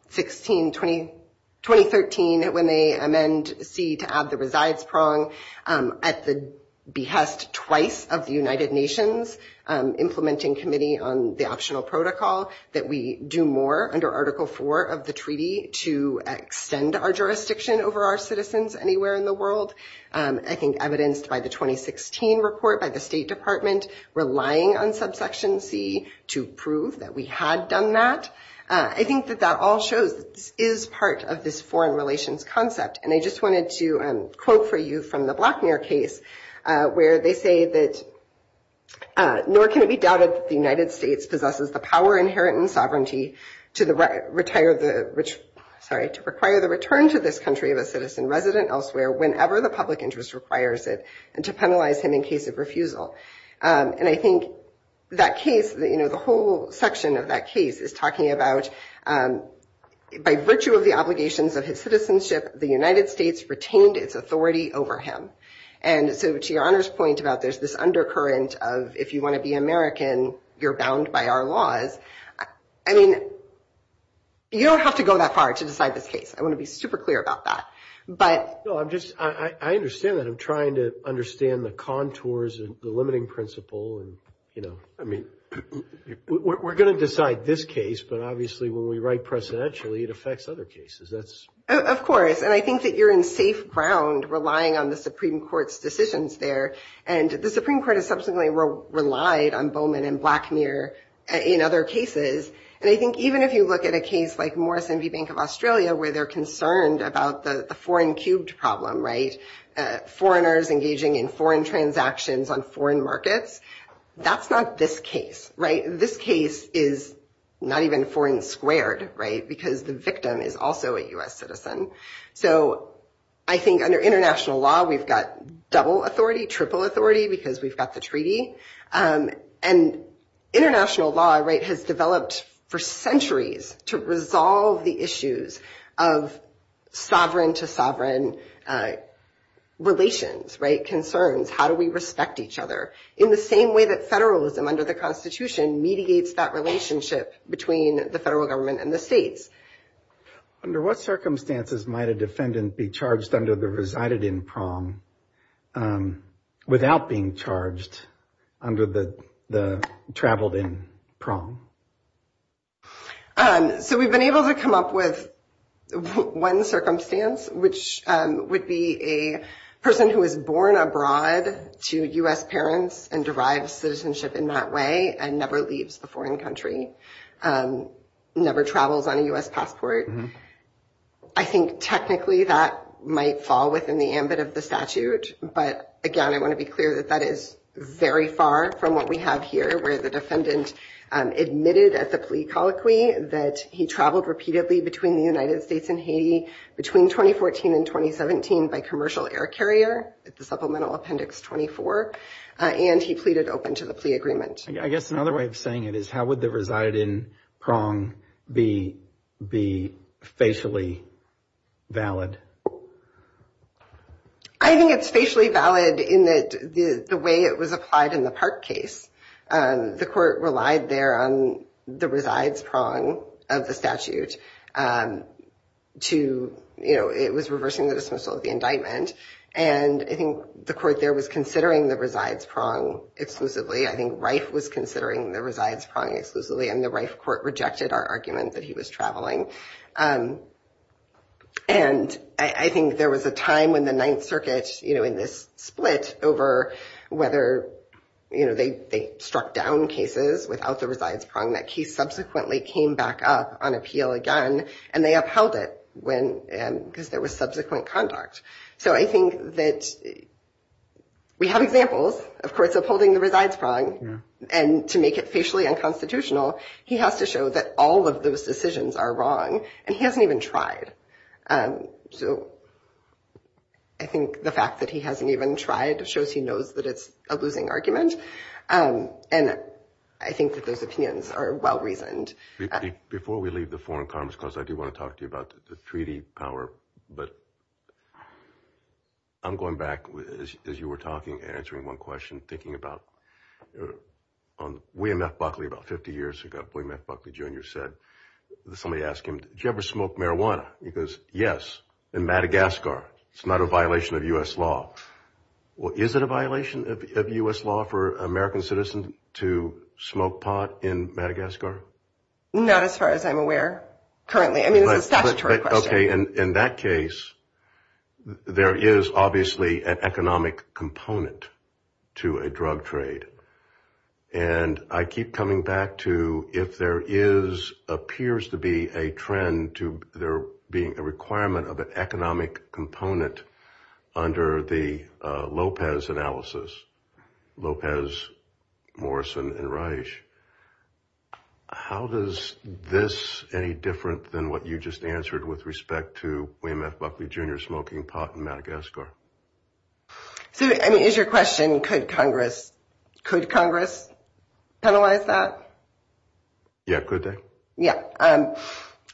16... 2013 when they amend C to add the resides prong at the behest twice of the United Nations implementing committee on the optional protocol that we do more under Article 4 of the treaty to extend our jurisdiction over our citizens anywhere in the world. I think evidenced by the 2016 report by the State Department relying on subsection C to prove that we had done that. I think that that also is part of this foreign relations concept, and I just wanted to quote for you from the Blackmere case where they say that, nor can it be doubted that the United States possesses the power inherent in sovereignty to require the return to this country of a citizen resident elsewhere whenever the public interest requires it, and to penalize him in case of a violation of his sovereignty. And so to your honor's point about there's this undercurrent of if you want to be American, you're bound by our laws. I mean, you don't have to go that far to decide this case. I want to be super clear about that, but... No, I'm just... I understand that. I'm trying to understand the contours and the limiting principle, and, you know, I mean, we're going to decide this case, but obviously when we write presidentially, it affects other cases. That's... Of course, and I think that you're in safe ground relying on the Supreme Court's decisions there, and the Supreme Court has subsequently relied on Bowman and Blackmere in other cases, and I think even if you look at a case like Morrison v. Bank of Australia where they're concerned about the foreign cubed problem, right, foreigners engaging in foreign transactions on foreign markets, that's not this case, right? This case is not even foreign squared, right, because the victim is also a U.S. citizen. So I think under international law, we've got double authority, triple authority because we've got the treaty, and international law, right, has developed for centuries to resolve the issues of sovereign to sovereign relations, concerns, how do we respect each other in the same way that federalism under the Constitution mediates that relationship between the federal government and the states. Under what circumstances might a defendant be charged under the resided in prom without being charged under the traveled in prom? So we've been able to come up with one circumstance, which would be a person who was born abroad to U.S. parents and derives citizenship in that way and never leaves a foreign country, never travels on a U.S. passport. I think technically that might fall within the ambit of the statute, but again, I want to be clear that that is very far from what we have here, where the defendant admitted as a plea colloquy that he traveled repeatedly between the United States and Haiti between 2014 and 2017 by commercial air carrier, it's a supplemental appendix 24, and he pleaded open to the plea agreement. I guess another way of saying it is how would the resided in prom be facially valid? I think it's facially valid in that the way it was applied in the Park case, the court relied there on the resides prom of the statute to, you know, it was reversing the dismissal of the indictment and I think the court there was considering the resides prom exclusively. I think Reif was considering the resides prom exclusively and the Reif court rejected our argument that he was traveling. I think there was a time when the Ninth Circuit, you know, in this split over whether, you know, they struck down cases without the resides prom that he subsequently came back up on appeal again and they upheld it because there was subsequent conduct. So I think that we have examples, of course, of holding the resides prom and to make it facially unconstitutional, he has to show that all of those decisions are wrong and he hasn't even tried. So I think the fact that he hasn't even tried shows he knows that it's a losing argument and I think that those opinions are well-reasoned. Before we leave the foreign commerce, because I do want to talk to you about the treaty power, but I'm going back as you were talking, answering one question, thinking about William F. Buckley about 50 years ago, William F. Buckley Jr. said, somebody asked him, did you ever smoke marijuana? He goes, yes, in Madagascar. It's not a violation of U.S. law. Well, is it a violation of U.S. law for an American citizen to smoke pot in Madagascar? Not as far as I'm aware, currently. I mean, that's a question. In that case, there is obviously an economic component to a drug trade. And I keep coming back to if there is, appears to be a trend to there being a requirement of an economic component under the Lopez analysis, Lopez, Morrison, and Reich, how does this any different than what you just answered with respect to William F. Buckley Jr. smoking pot in Madagascar? I mean, is your question, could Congress penalize that? Yeah, could they? Yeah. I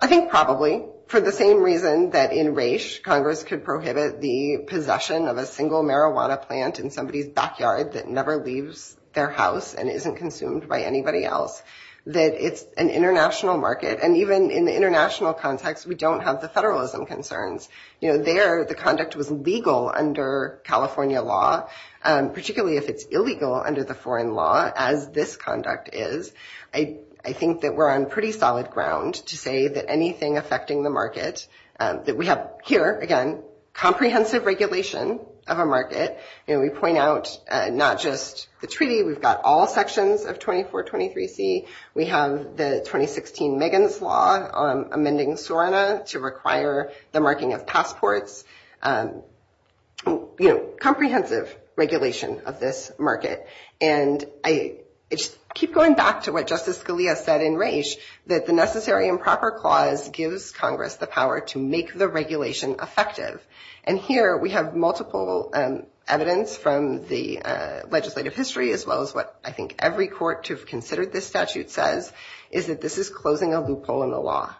think probably. For the same reason that in Reich, Congress could prohibit the possession of a single marijuana plant in somebody's backyard that never leaves their house and isn't consumed by anybody else, that it's an international market. And even in the international context, we don't have the federalism concerns. There, the conduct was legal under California law, particularly if it's illegal under the foreign law, as this conduct is. I think that we're on pretty solid ground to say that anything affecting the market, that we have here, again, comprehensive regulation of a market. We point out not just the treaty, we've got all sections of 2423C. We have the 2016 Megan's Law amending Suriname to require the marking of passports. Comprehensive regulation of this market. And I keep going back to what Justice Scalia said in Reich, that the necessary and proper clause gives Congress the power to make the regulation effective. And here, we have multiple evidence from the legislative history, as well as what I think every court to have considered this statute says, is that this is closing a loophole in the law.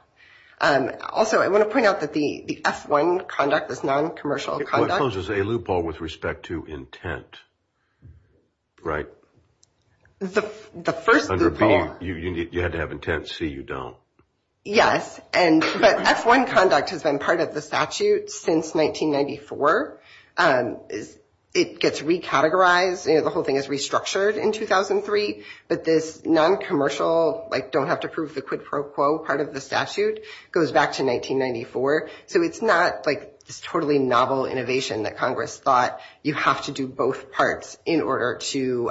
Also, I want to point out that the F1 conduct with non-commercial conduct- It closes a loophole with respect to intent, right? The first loophole- You had to have intent, see you don't. Yes, but F1 conduct has been part of the statute since 1994. It gets recategorized, the whole thing is restructured in 2003, but this non-commercial, don't have to prove the quid pro quo part of the statute, goes back to 1994. So, it's not totally novel innovation that Congress thought you have to do both parts in order to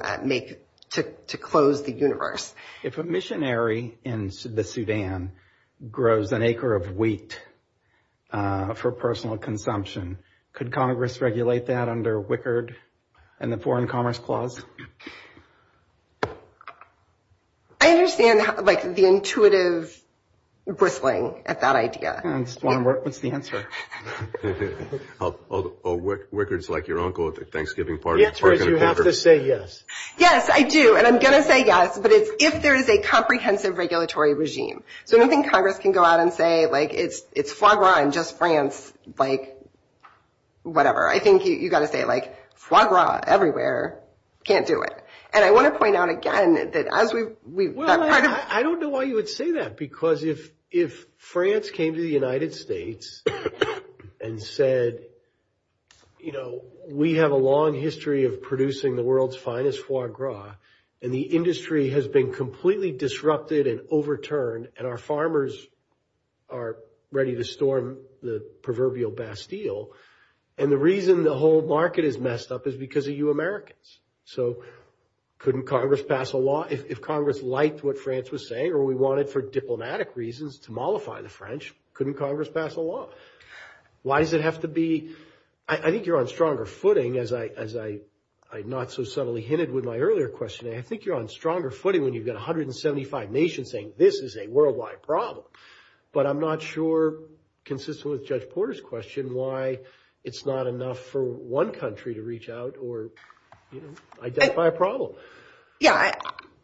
close the universe. If a missionary in the Sudan grows an acre of wheat for personal consumption, could Congress regulate that under Wickard and the Foreign Commerce Clause? I understand the intuitive bristling at that idea. I just want to work with the answer. Wickard's like your uncle at the Thanksgiving party. Yes, but you have to say yes. Yes, I do, and I'm going to say yes, but it's if there is a comprehensive regulatory regime. So, I think Congress can go out and say it's foie gras in just France, whatever. I think you got to say foie gras everywhere, can't do it. I want to point out again that as we- I don't know why you would say that, because if France came to the United States and said, you know, we have a long history of producing the world's finest foie gras, and the industry has been completely disrupted and overturned, and our farmers are ready to storm the proverbial Bastille, and the reason the whole market is messed up is because of you Americans. So, couldn't Congress pass a law? If Congress liked what France was saying or we wanted for diplomatic reasons to mollify the French, couldn't Congress pass a law? Why does it have to be- I think you're on stronger footing, as I not so subtly hinted with my earlier question, and I think you're on stronger footing when you've got 175 nations saying this is a worldwide problem, but I'm not sure, consistent with Judge Porter's question, why it's not enough for one country to reach out or, you know, identify a problem. Yeah,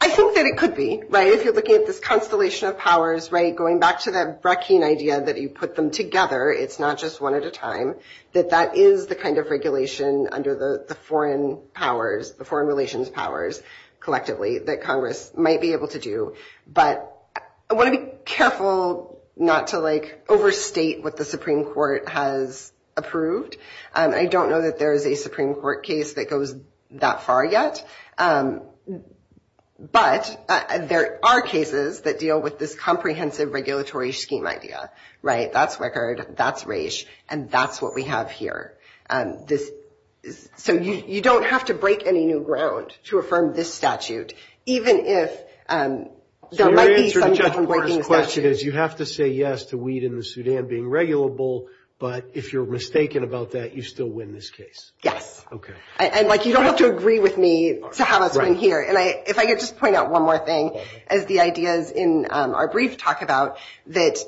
I think that it could be, right, if you're looking at this constellation of powers, right, going back to that Breckian idea that you put them together, it's not just one at a time, that that is the kind of regulation under the foreign powers, the foreign relations powers, collectively, that Congress might be able to do, but I want to be careful not to, like, overstate what the Supreme Court has approved. I don't know that there is a Supreme Court case that goes that far yet, but there are cases that deal with this comprehensive regulatory scheme idea, right, that's record, that's race, and that's what we have here, and this- so you don't have to break any new ground to affirm this statute, even if there might be some different questions. You have to say yes to weed in the Sudan being regulable, but if you're mistaken about that, you still win this case. Yes. Okay. And, like, you don't have to agree with me to how it's been here, and I- if I could just point out one more thing, as the ideas in our brief talk about that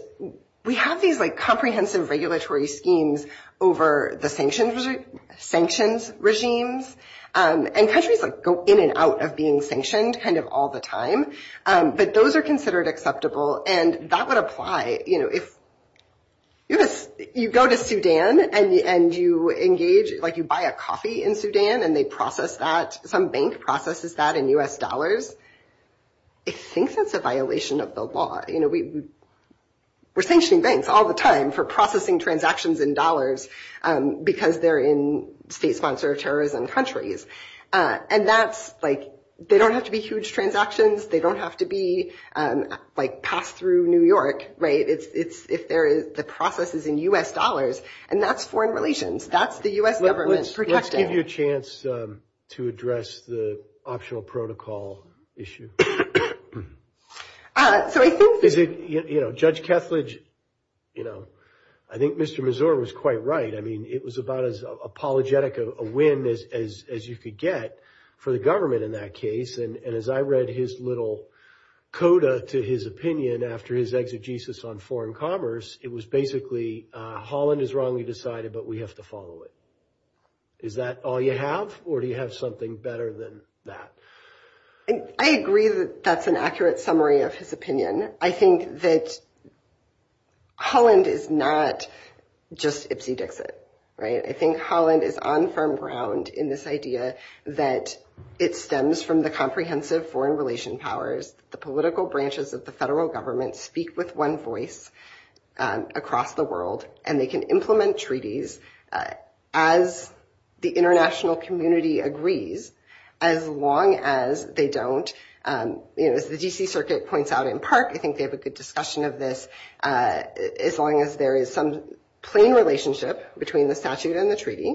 we have these, like, comprehensive regulatory schemes over the sanctions regimes, and countries go in and out of being sanctioned, kind of, all the time, but those are considered acceptable, and that would apply, you know, if you go to Sudan, and you engage, like, you buy a coffee in Sudan, and they process that, some bank processes that in U.S. dollars, I think that's a violation of the law, you know, we're sanctioning banks all the time for processing transactions in dollars, because they're in state sponsorships and countries, and that's, like, they don't have to be huge transactions, they don't have to be, like, passed through New York, right, it's- if there is- the process is in U.S. dollars, and that's foreign relations, that's the U.S. government's protection. Let's give you a chance to address the optional protocol issue. So I think- Is it, you know, Judge Keflage, you know, I think Mr. Mazur was quite right, I mean, it was about as apologetic a whim as you could get for the government in that case, and as I read his little coda to his opinion after his exegesis on foreign commerce, it was basically, uh, Holland is wrongly decided, but we have to follow it. Is that all you have, or do you have something better than that? And I agree that that's an accurate summary of his opinion. I think that Holland is not just ipsy-dixit, right? I think Holland is on firm ground in this idea that it stems from the comprehensive foreign relation powers, the political branches of the federal government speak with one voice across the world, and they can implement treaties as the international community agrees, as long as they don't, um, you know, as the D.C. Circuit points out in PARC, I think they have a good discussion of this, uh, as long as there is some plain relationship between the statute and the treaty,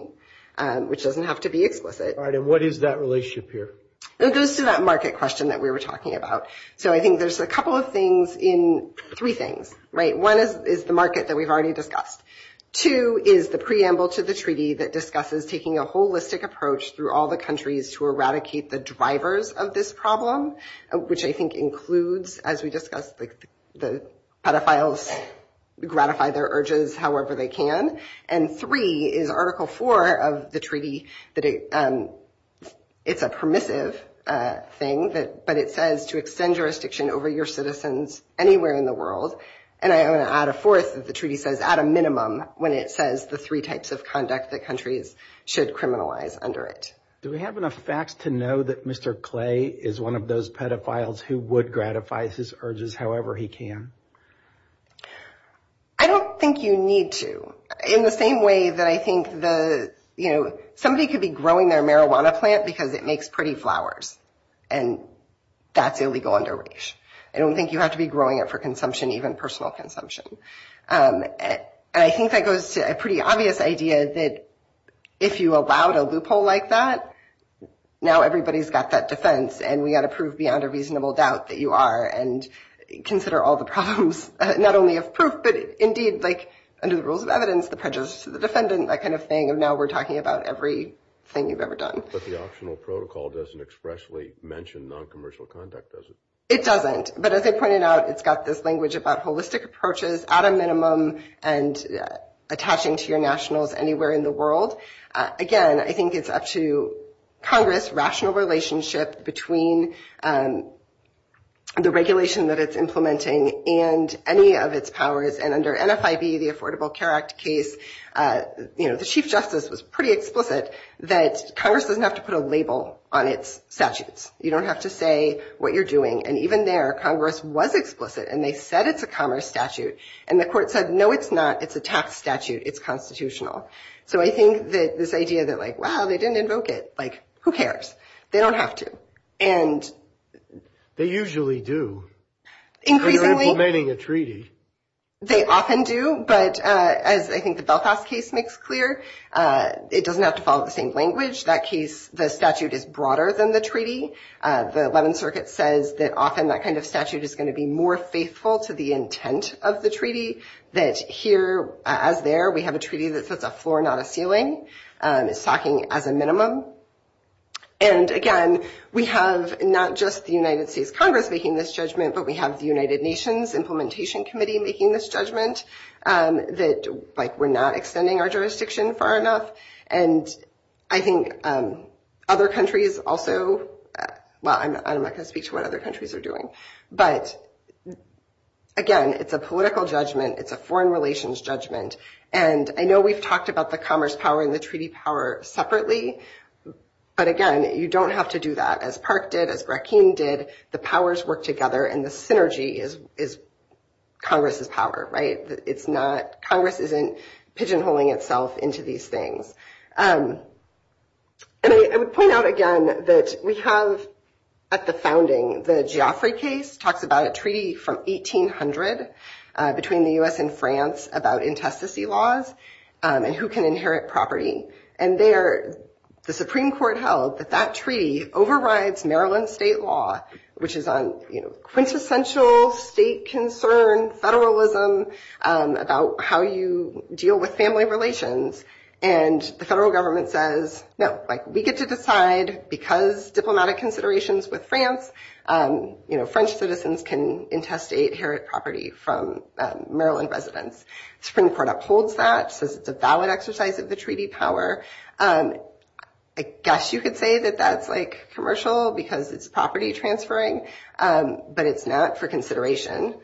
um, which doesn't have to be explicit. All right, and what is that relationship here? It goes to that market question that we were talking about. So I think there's a couple of things in- three things, right? One is the market that we've already discussed. Two is the preamble to the treaty that discusses taking a holistic approach through all the countries to eradicate the drivers of this problem, which I think includes, as we discussed, the pedophiles gratify their urges however they can. And three is Article 4 of the treaty that, um, it's a permissive, uh, thing, but it says to extend jurisdiction over your citizens anywhere in the world. And I'm going to add a fourth, as the treaty says, at a minimum, when it says the three types of conduct that countries should criminalize under it. Do we have enough facts to know that Mr. Clay is one of those pedophiles who would gratify his urges however he can? I don't think you need to. In the same way that I think the, you know, somebody could be growing their marijuana plant because it makes pretty flowers and that's illegal under race. I don't think you have to be growing it for consumption, even personal consumption. Um, and I think that goes to a pretty obvious idea that if you allowed a loophole like that, now everybody's got that defense and we got to prove beyond a reasonable doubt that you are and consider all the problems, not only of proof, but indeed like under the rules of evidence, the prejudice to the defendant, that kind of thing. Now we're talking about everything you've ever done. But the optional protocol doesn't expressly mention non-commercial conduct, does it? It doesn't. But as I pointed out, it's got this language about holistic approaches at a minimum and attaching to your nationals anywhere in the world. Again, I think it's up to Congress, rational relationship between the regulation that it's implementing and any of its powers. And under NFIB, the Affordable Care Act case, you know, the chief justice was pretty explicit that Congress doesn't have to put a label on its statutes. You don't have to say what you're doing. And even there, Congress was explicit and they said it's a commerce statute. And the court said, no, it's not. It's a tax statute. It's constitutional. So I think that this idea that like, wow, they didn't invoke it, like who cares? They don't have to. And they usually do. Increasingly, they often do. But as I think the Belfast case makes clear, it doesn't have to follow the same language. That case, the statute is broader than the treaty. The 11th Circuit says that often that kind of statute is going to be more faithful to the intent of the treaty. That here, as there, we have a treaty that's just a floor, not a ceiling. It's talking as a minimum. And again, we have not just the United States Congress making this judgment, but we have the United Nations Implementation Committee making this judgment that like we're not extending our jurisdiction far enough. And I think other cases, again, it's a political judgment. It's a foreign relations judgment. And I know we've talked about the commerce power and the treaty power separately. But again, you don't have to do that. As Park did, as Brackeen did, the powers work together and the synergy is Congress's power, right? Congress isn't pigeonholing itself into these things. And I would point out again that we have at the founding, the Geoffrey case talks about a treaty from 1800 between the U.S. and France about infestacy laws and who can inherit property. And there, the Supreme Court held that that treaty overrides Maryland state law, which is quintessential state concern, federalism about how you deal with family relations. And the federal government says, no, we get to decide because diplomatic considerations with France. French citizens can intestate, inherit property from Maryland residents. Supreme Court upholds that, says it's a valid exercise of the treaty power. I guess you could say that that's like commercial because it's property transferring, but it's not for consideration.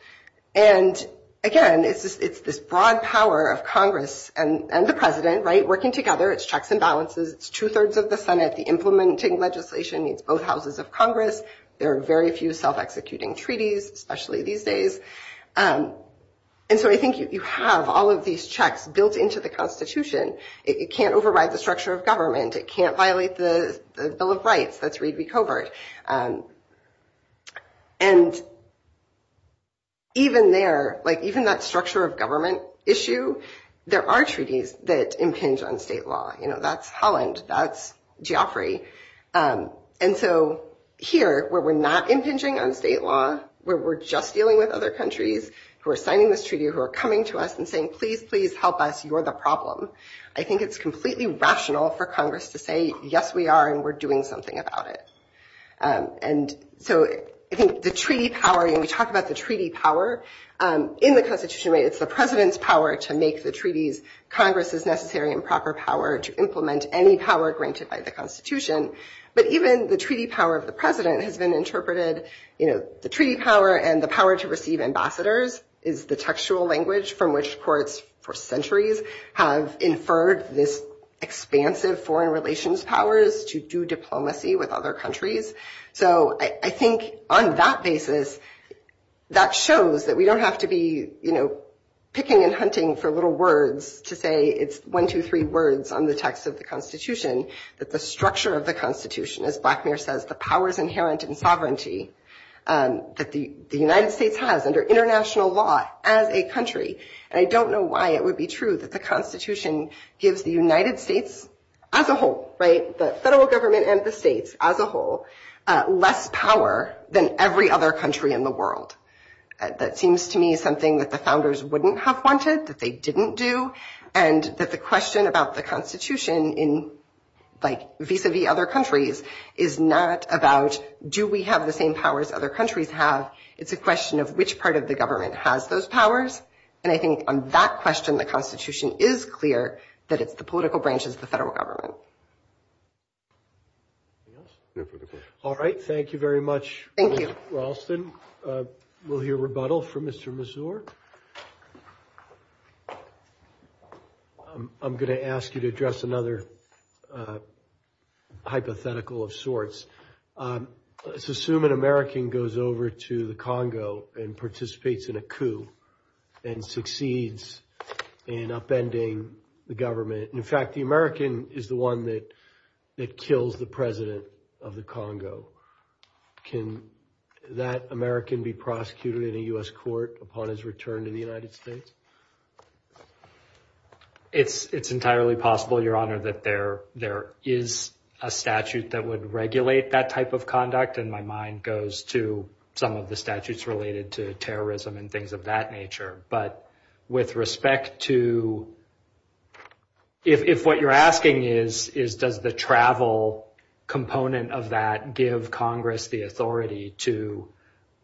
And again, it's this broad power of Congress and the president, working together, it's checks and balances, two-thirds of the Senate implementing legislation in both houses of Congress. There are very few self-executing treaties, especially these days. And so I think you have all of these checks built into the Constitution. It can't override the structure of government. It can't violate the Bill of Rights. That's really covert. And even there, even that structure of government issue, there are treaties that impinge on state law. That's Holland, that's Geoffrey. And so here, where we're not impinging on state law, where we're just dealing with other countries who are signing this treaty, who are coming to us and saying, please, please help us, you're the problem. I think it's completely rational for Congress to say, yes, we are, and we're doing something about it. And so I think the treaty power, when we talk about the treaty power, in the Constitution, it's the president's power to make the treaties, Congress's necessary and proper power to implement any power granted by the Constitution. But even the treaty power of the president has been interpreted, the treaty power and the power to receive ambassadors is the textual language from which courts for centuries have inferred this expansive foreign relations powers to do diplomacy with other countries. So I think on that basis, that shows that we don't have to be picking and hunting for little words to say it's one, two, three words on the text of the Constitution, but the structure of the Constitution, as Blackmire says, the powers inherent in sovereignty that the United States has under international law as a country. And I don't know why it would be true that the Constitution gives the United States as a whole, the federal government and the states as a whole, less power than every other country in the world. That seems to me something that the founders wouldn't have wanted, that they didn't do. And that the question about the Constitution in like vis-a-vis other countries is not about do we have the same powers other countries have? It's a question of which part of the government has those powers. And I think on that question, the Constitution is clear that it's the political branches of the federal government. All right. Thank you very much, Rosslyn. We'll hear rebuttal from Mr. Mazur. I'm going to ask you to address another hypothetical of sorts. Let's assume an American goes over to the Congo and participates in a coup and succeeds in upending the government. In fact, the American is the one that kills the president of the Congo. Can that American be prosecuted in a U.S. court upon his return to the United States? It's entirely possible, Your Honor, that there is a statute that would regulate that type of conduct. And my mind goes to some of the statutes related to terrorism and things of that nature. But with respect to if what you're asking is does the travel component of that give Congress the authority to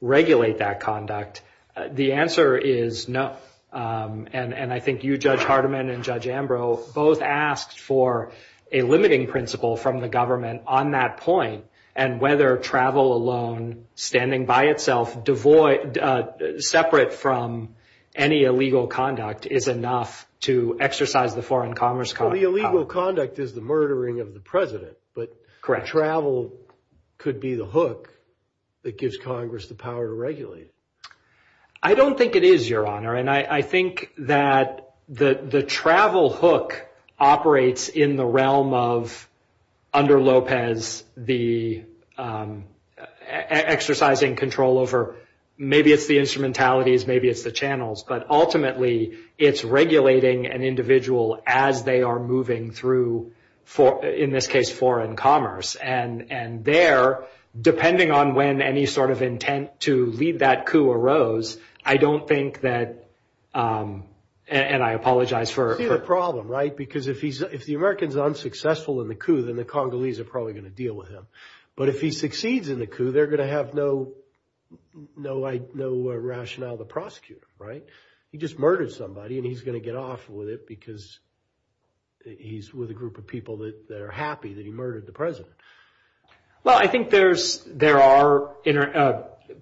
regulate that conduct, the answer is no. And I think you, Judge Hardiman and Judge Ambrose both asked for a limiting principle from the government on that point and whether travel alone, standing by itself, separate from any illegal conduct is enough to exercise the foreign commerce. The illegal conduct is the murdering of the president. But travel could be the hook that gives Congress the power to regulate. I don't think it is, Your Honor. And I think that the travel hook operates in the realm of under Lopez, the exercising control over maybe it's the instrumentalities, maybe it's the channels, but ultimately it's regulating an individual as they are moving through, in this case, foreign commerce. And there, depending on when any sort of intent to lead that coup arose, I don't think that, and I apologize for... I see the problem, right? Because if the American's unsuccessful in the coup, then the Congolese are probably going to deal with him. But if he succeeds in the coup, they're going to have no rationale to prosecute him, right? He just murdered somebody and he's going to get off with it because he's with a group of people that are happy that he murdered the president. Well, I think there are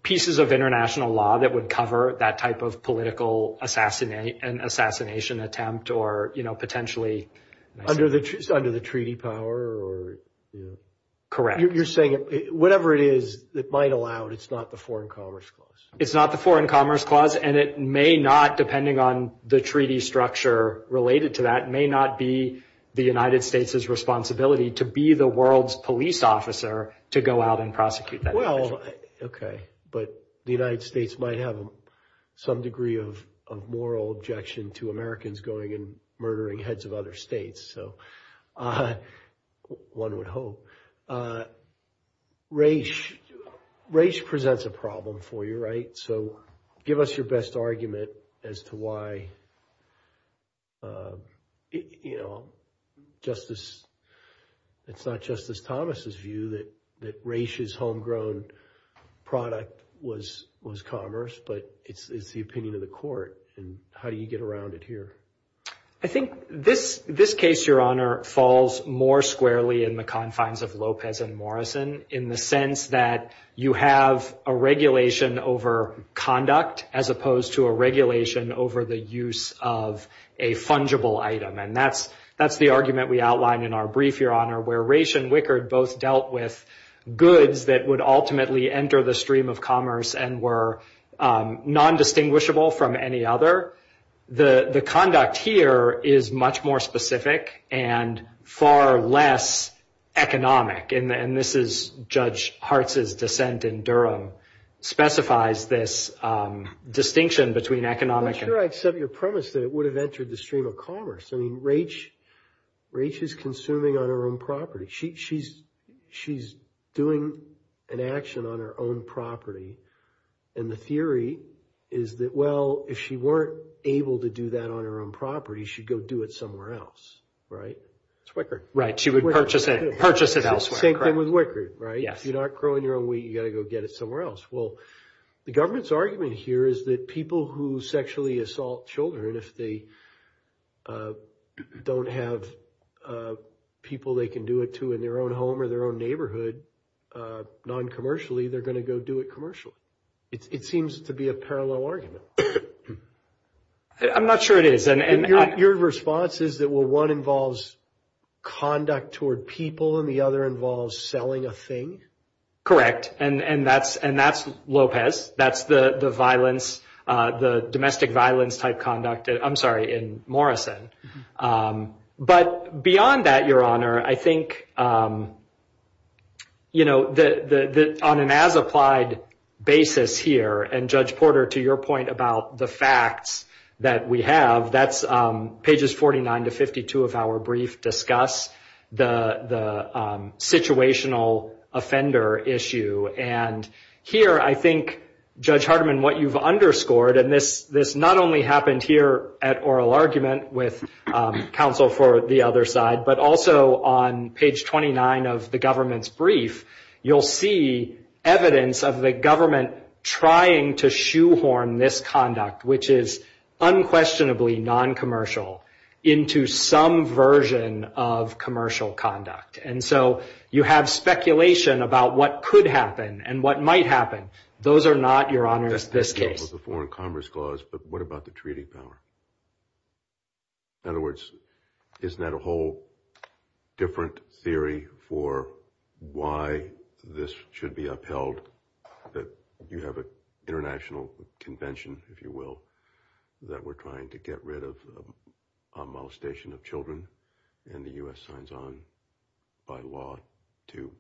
pieces of international law that would cover that type of political assassination attempt or potentially... Under the treaty power or... Correct. You're saying whatever it is, it might allow, it's not the foreign commerce clause. It's not the foreign commerce clause. And it may not, depending on the treaty structure related to that, may not be the United States' responsibility to be the world's police officer to go out and prosecute that. Well, okay. But the United States might have some degree of moral objection to Americans going and murdering heads of other states. So one would hope. Race presents a problem for you, right? So give us your best argument as to why it's not Justice Thomas's view that race is homegrown product was commerce, but it's the opinion of the court. And how do you get around it here? I think this case, Your Honor, falls more squarely in the confines of Lopez and Morrison in the sense that you have a regulation over conduct as opposed to a regulation over the use of a fungible item. And that's the argument we outlined in our brief, Your Honor, where Race and Wickard both dealt with goods that would ultimately enter the stream of commerce and were non-distinguishable from any other. The conduct here is much more specific and far less economic. And this is Judge Hartz's dissent in Durham specifies this distinction between economic... I'm sure I've said your premise that it would have entered the stream of commerce. I mean, Race is consuming on her own property. She's doing an action on her own property. And the theory is that, well, if she weren't able to do that on her own property, she'd go do it elsewhere. Same thing with Wickard, right? If you're not growing your own wheat, you got to go get it somewhere else. Well, the government's argument here is that people who sexually assault children, if they don't have people they can do it to in their own home or their own neighborhood, non-commercially, they're going to go do it commercially. It seems to be a parallel argument. I'm not sure it is. And your response is that, well, one involves conduct toward people, and the other involves selling a thing? Correct. And that's Lopez. That's the domestic violence type conduct, I'm sorry, in Morrison. But beyond that, Your Honor, I think on an as-applied basis here, and Judge Porter, to your point about the facts that we have, pages 49 to 52 of our brief discuss the situational offender issue. And here, I think, Judge Hardiman, what you've underscored, and this not only happened here at oral argument with counsel for the other side, but also on page 29 of the government's brief, you'll see evidence of the government trying to shoehorn misconduct, which is unquestionably non-commercial, into some version of commercial conduct. And so, you have speculation about what could happen, and what might happen. Those are not, Your Honor, this case. The foreign commerce clause, but what about the treaty power? In other words, is that a whole different theory for why this should be upheld, that you have an international convention, if you will, that we're trying to get rid of a molestation of children, and the U.S. signs on by law to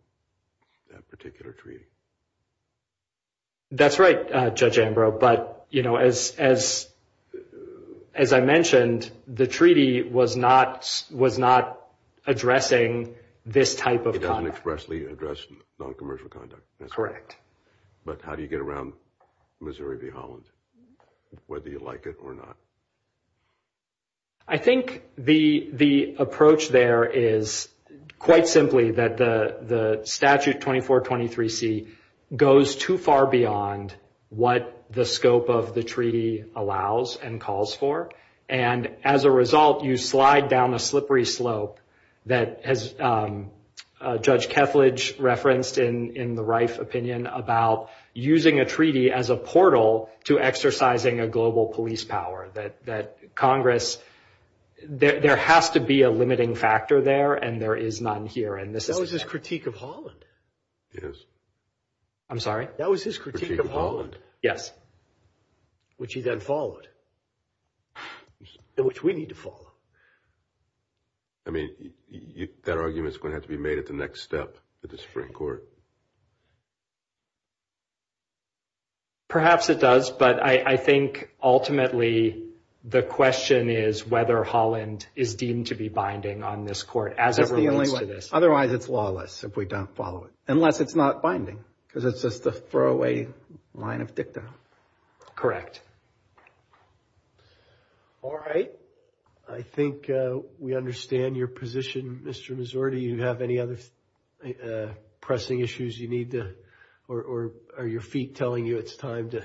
that particular treaty? That's right, Judge Ambrose. But, you know, as I mentioned, the treaty was not addressing this type of conduct. It doesn't expressly address non-commercial conduct. That's correct. But how do you get around Missouri v. Holland, whether you like it or not? I think the approach there is, quite simply, that the statute 2423C goes too far beyond what the scope of the treaty allows and calls for. And as a result, you slide down a slippery slope that, as Judge Kethledge referenced in the Reif opinion, about using a treaty as a portal to exercising a global police power. That Congress, there has to be a limiting factor there, and there is none here. That was his critique of Holland. Yes. I'm sorry? That was his critique of Holland. Yes. Which he then followed. Which we need to follow. I mean, that argument's going to have to be made at the next step with the Supreme Court. Perhaps it does, but I think, ultimately, the question is whether Holland is deemed to be on this court as it relates to this. Otherwise, it's lawless if we don't follow it. Unless it's not binding, because it's just a throwaway line of dictum. Correct. All right. I think we understand your position, Mr. Missouri. Do you have any other pressing issues you need to, or are your feet telling you it's time to?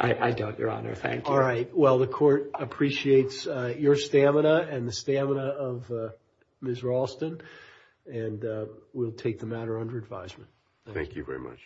I don't, Your Honor. Thank you. All right. Well, the court appreciates your stamina and the stamina of Ms. Ralston, and we'll take the matter under advisement. Thank you very much.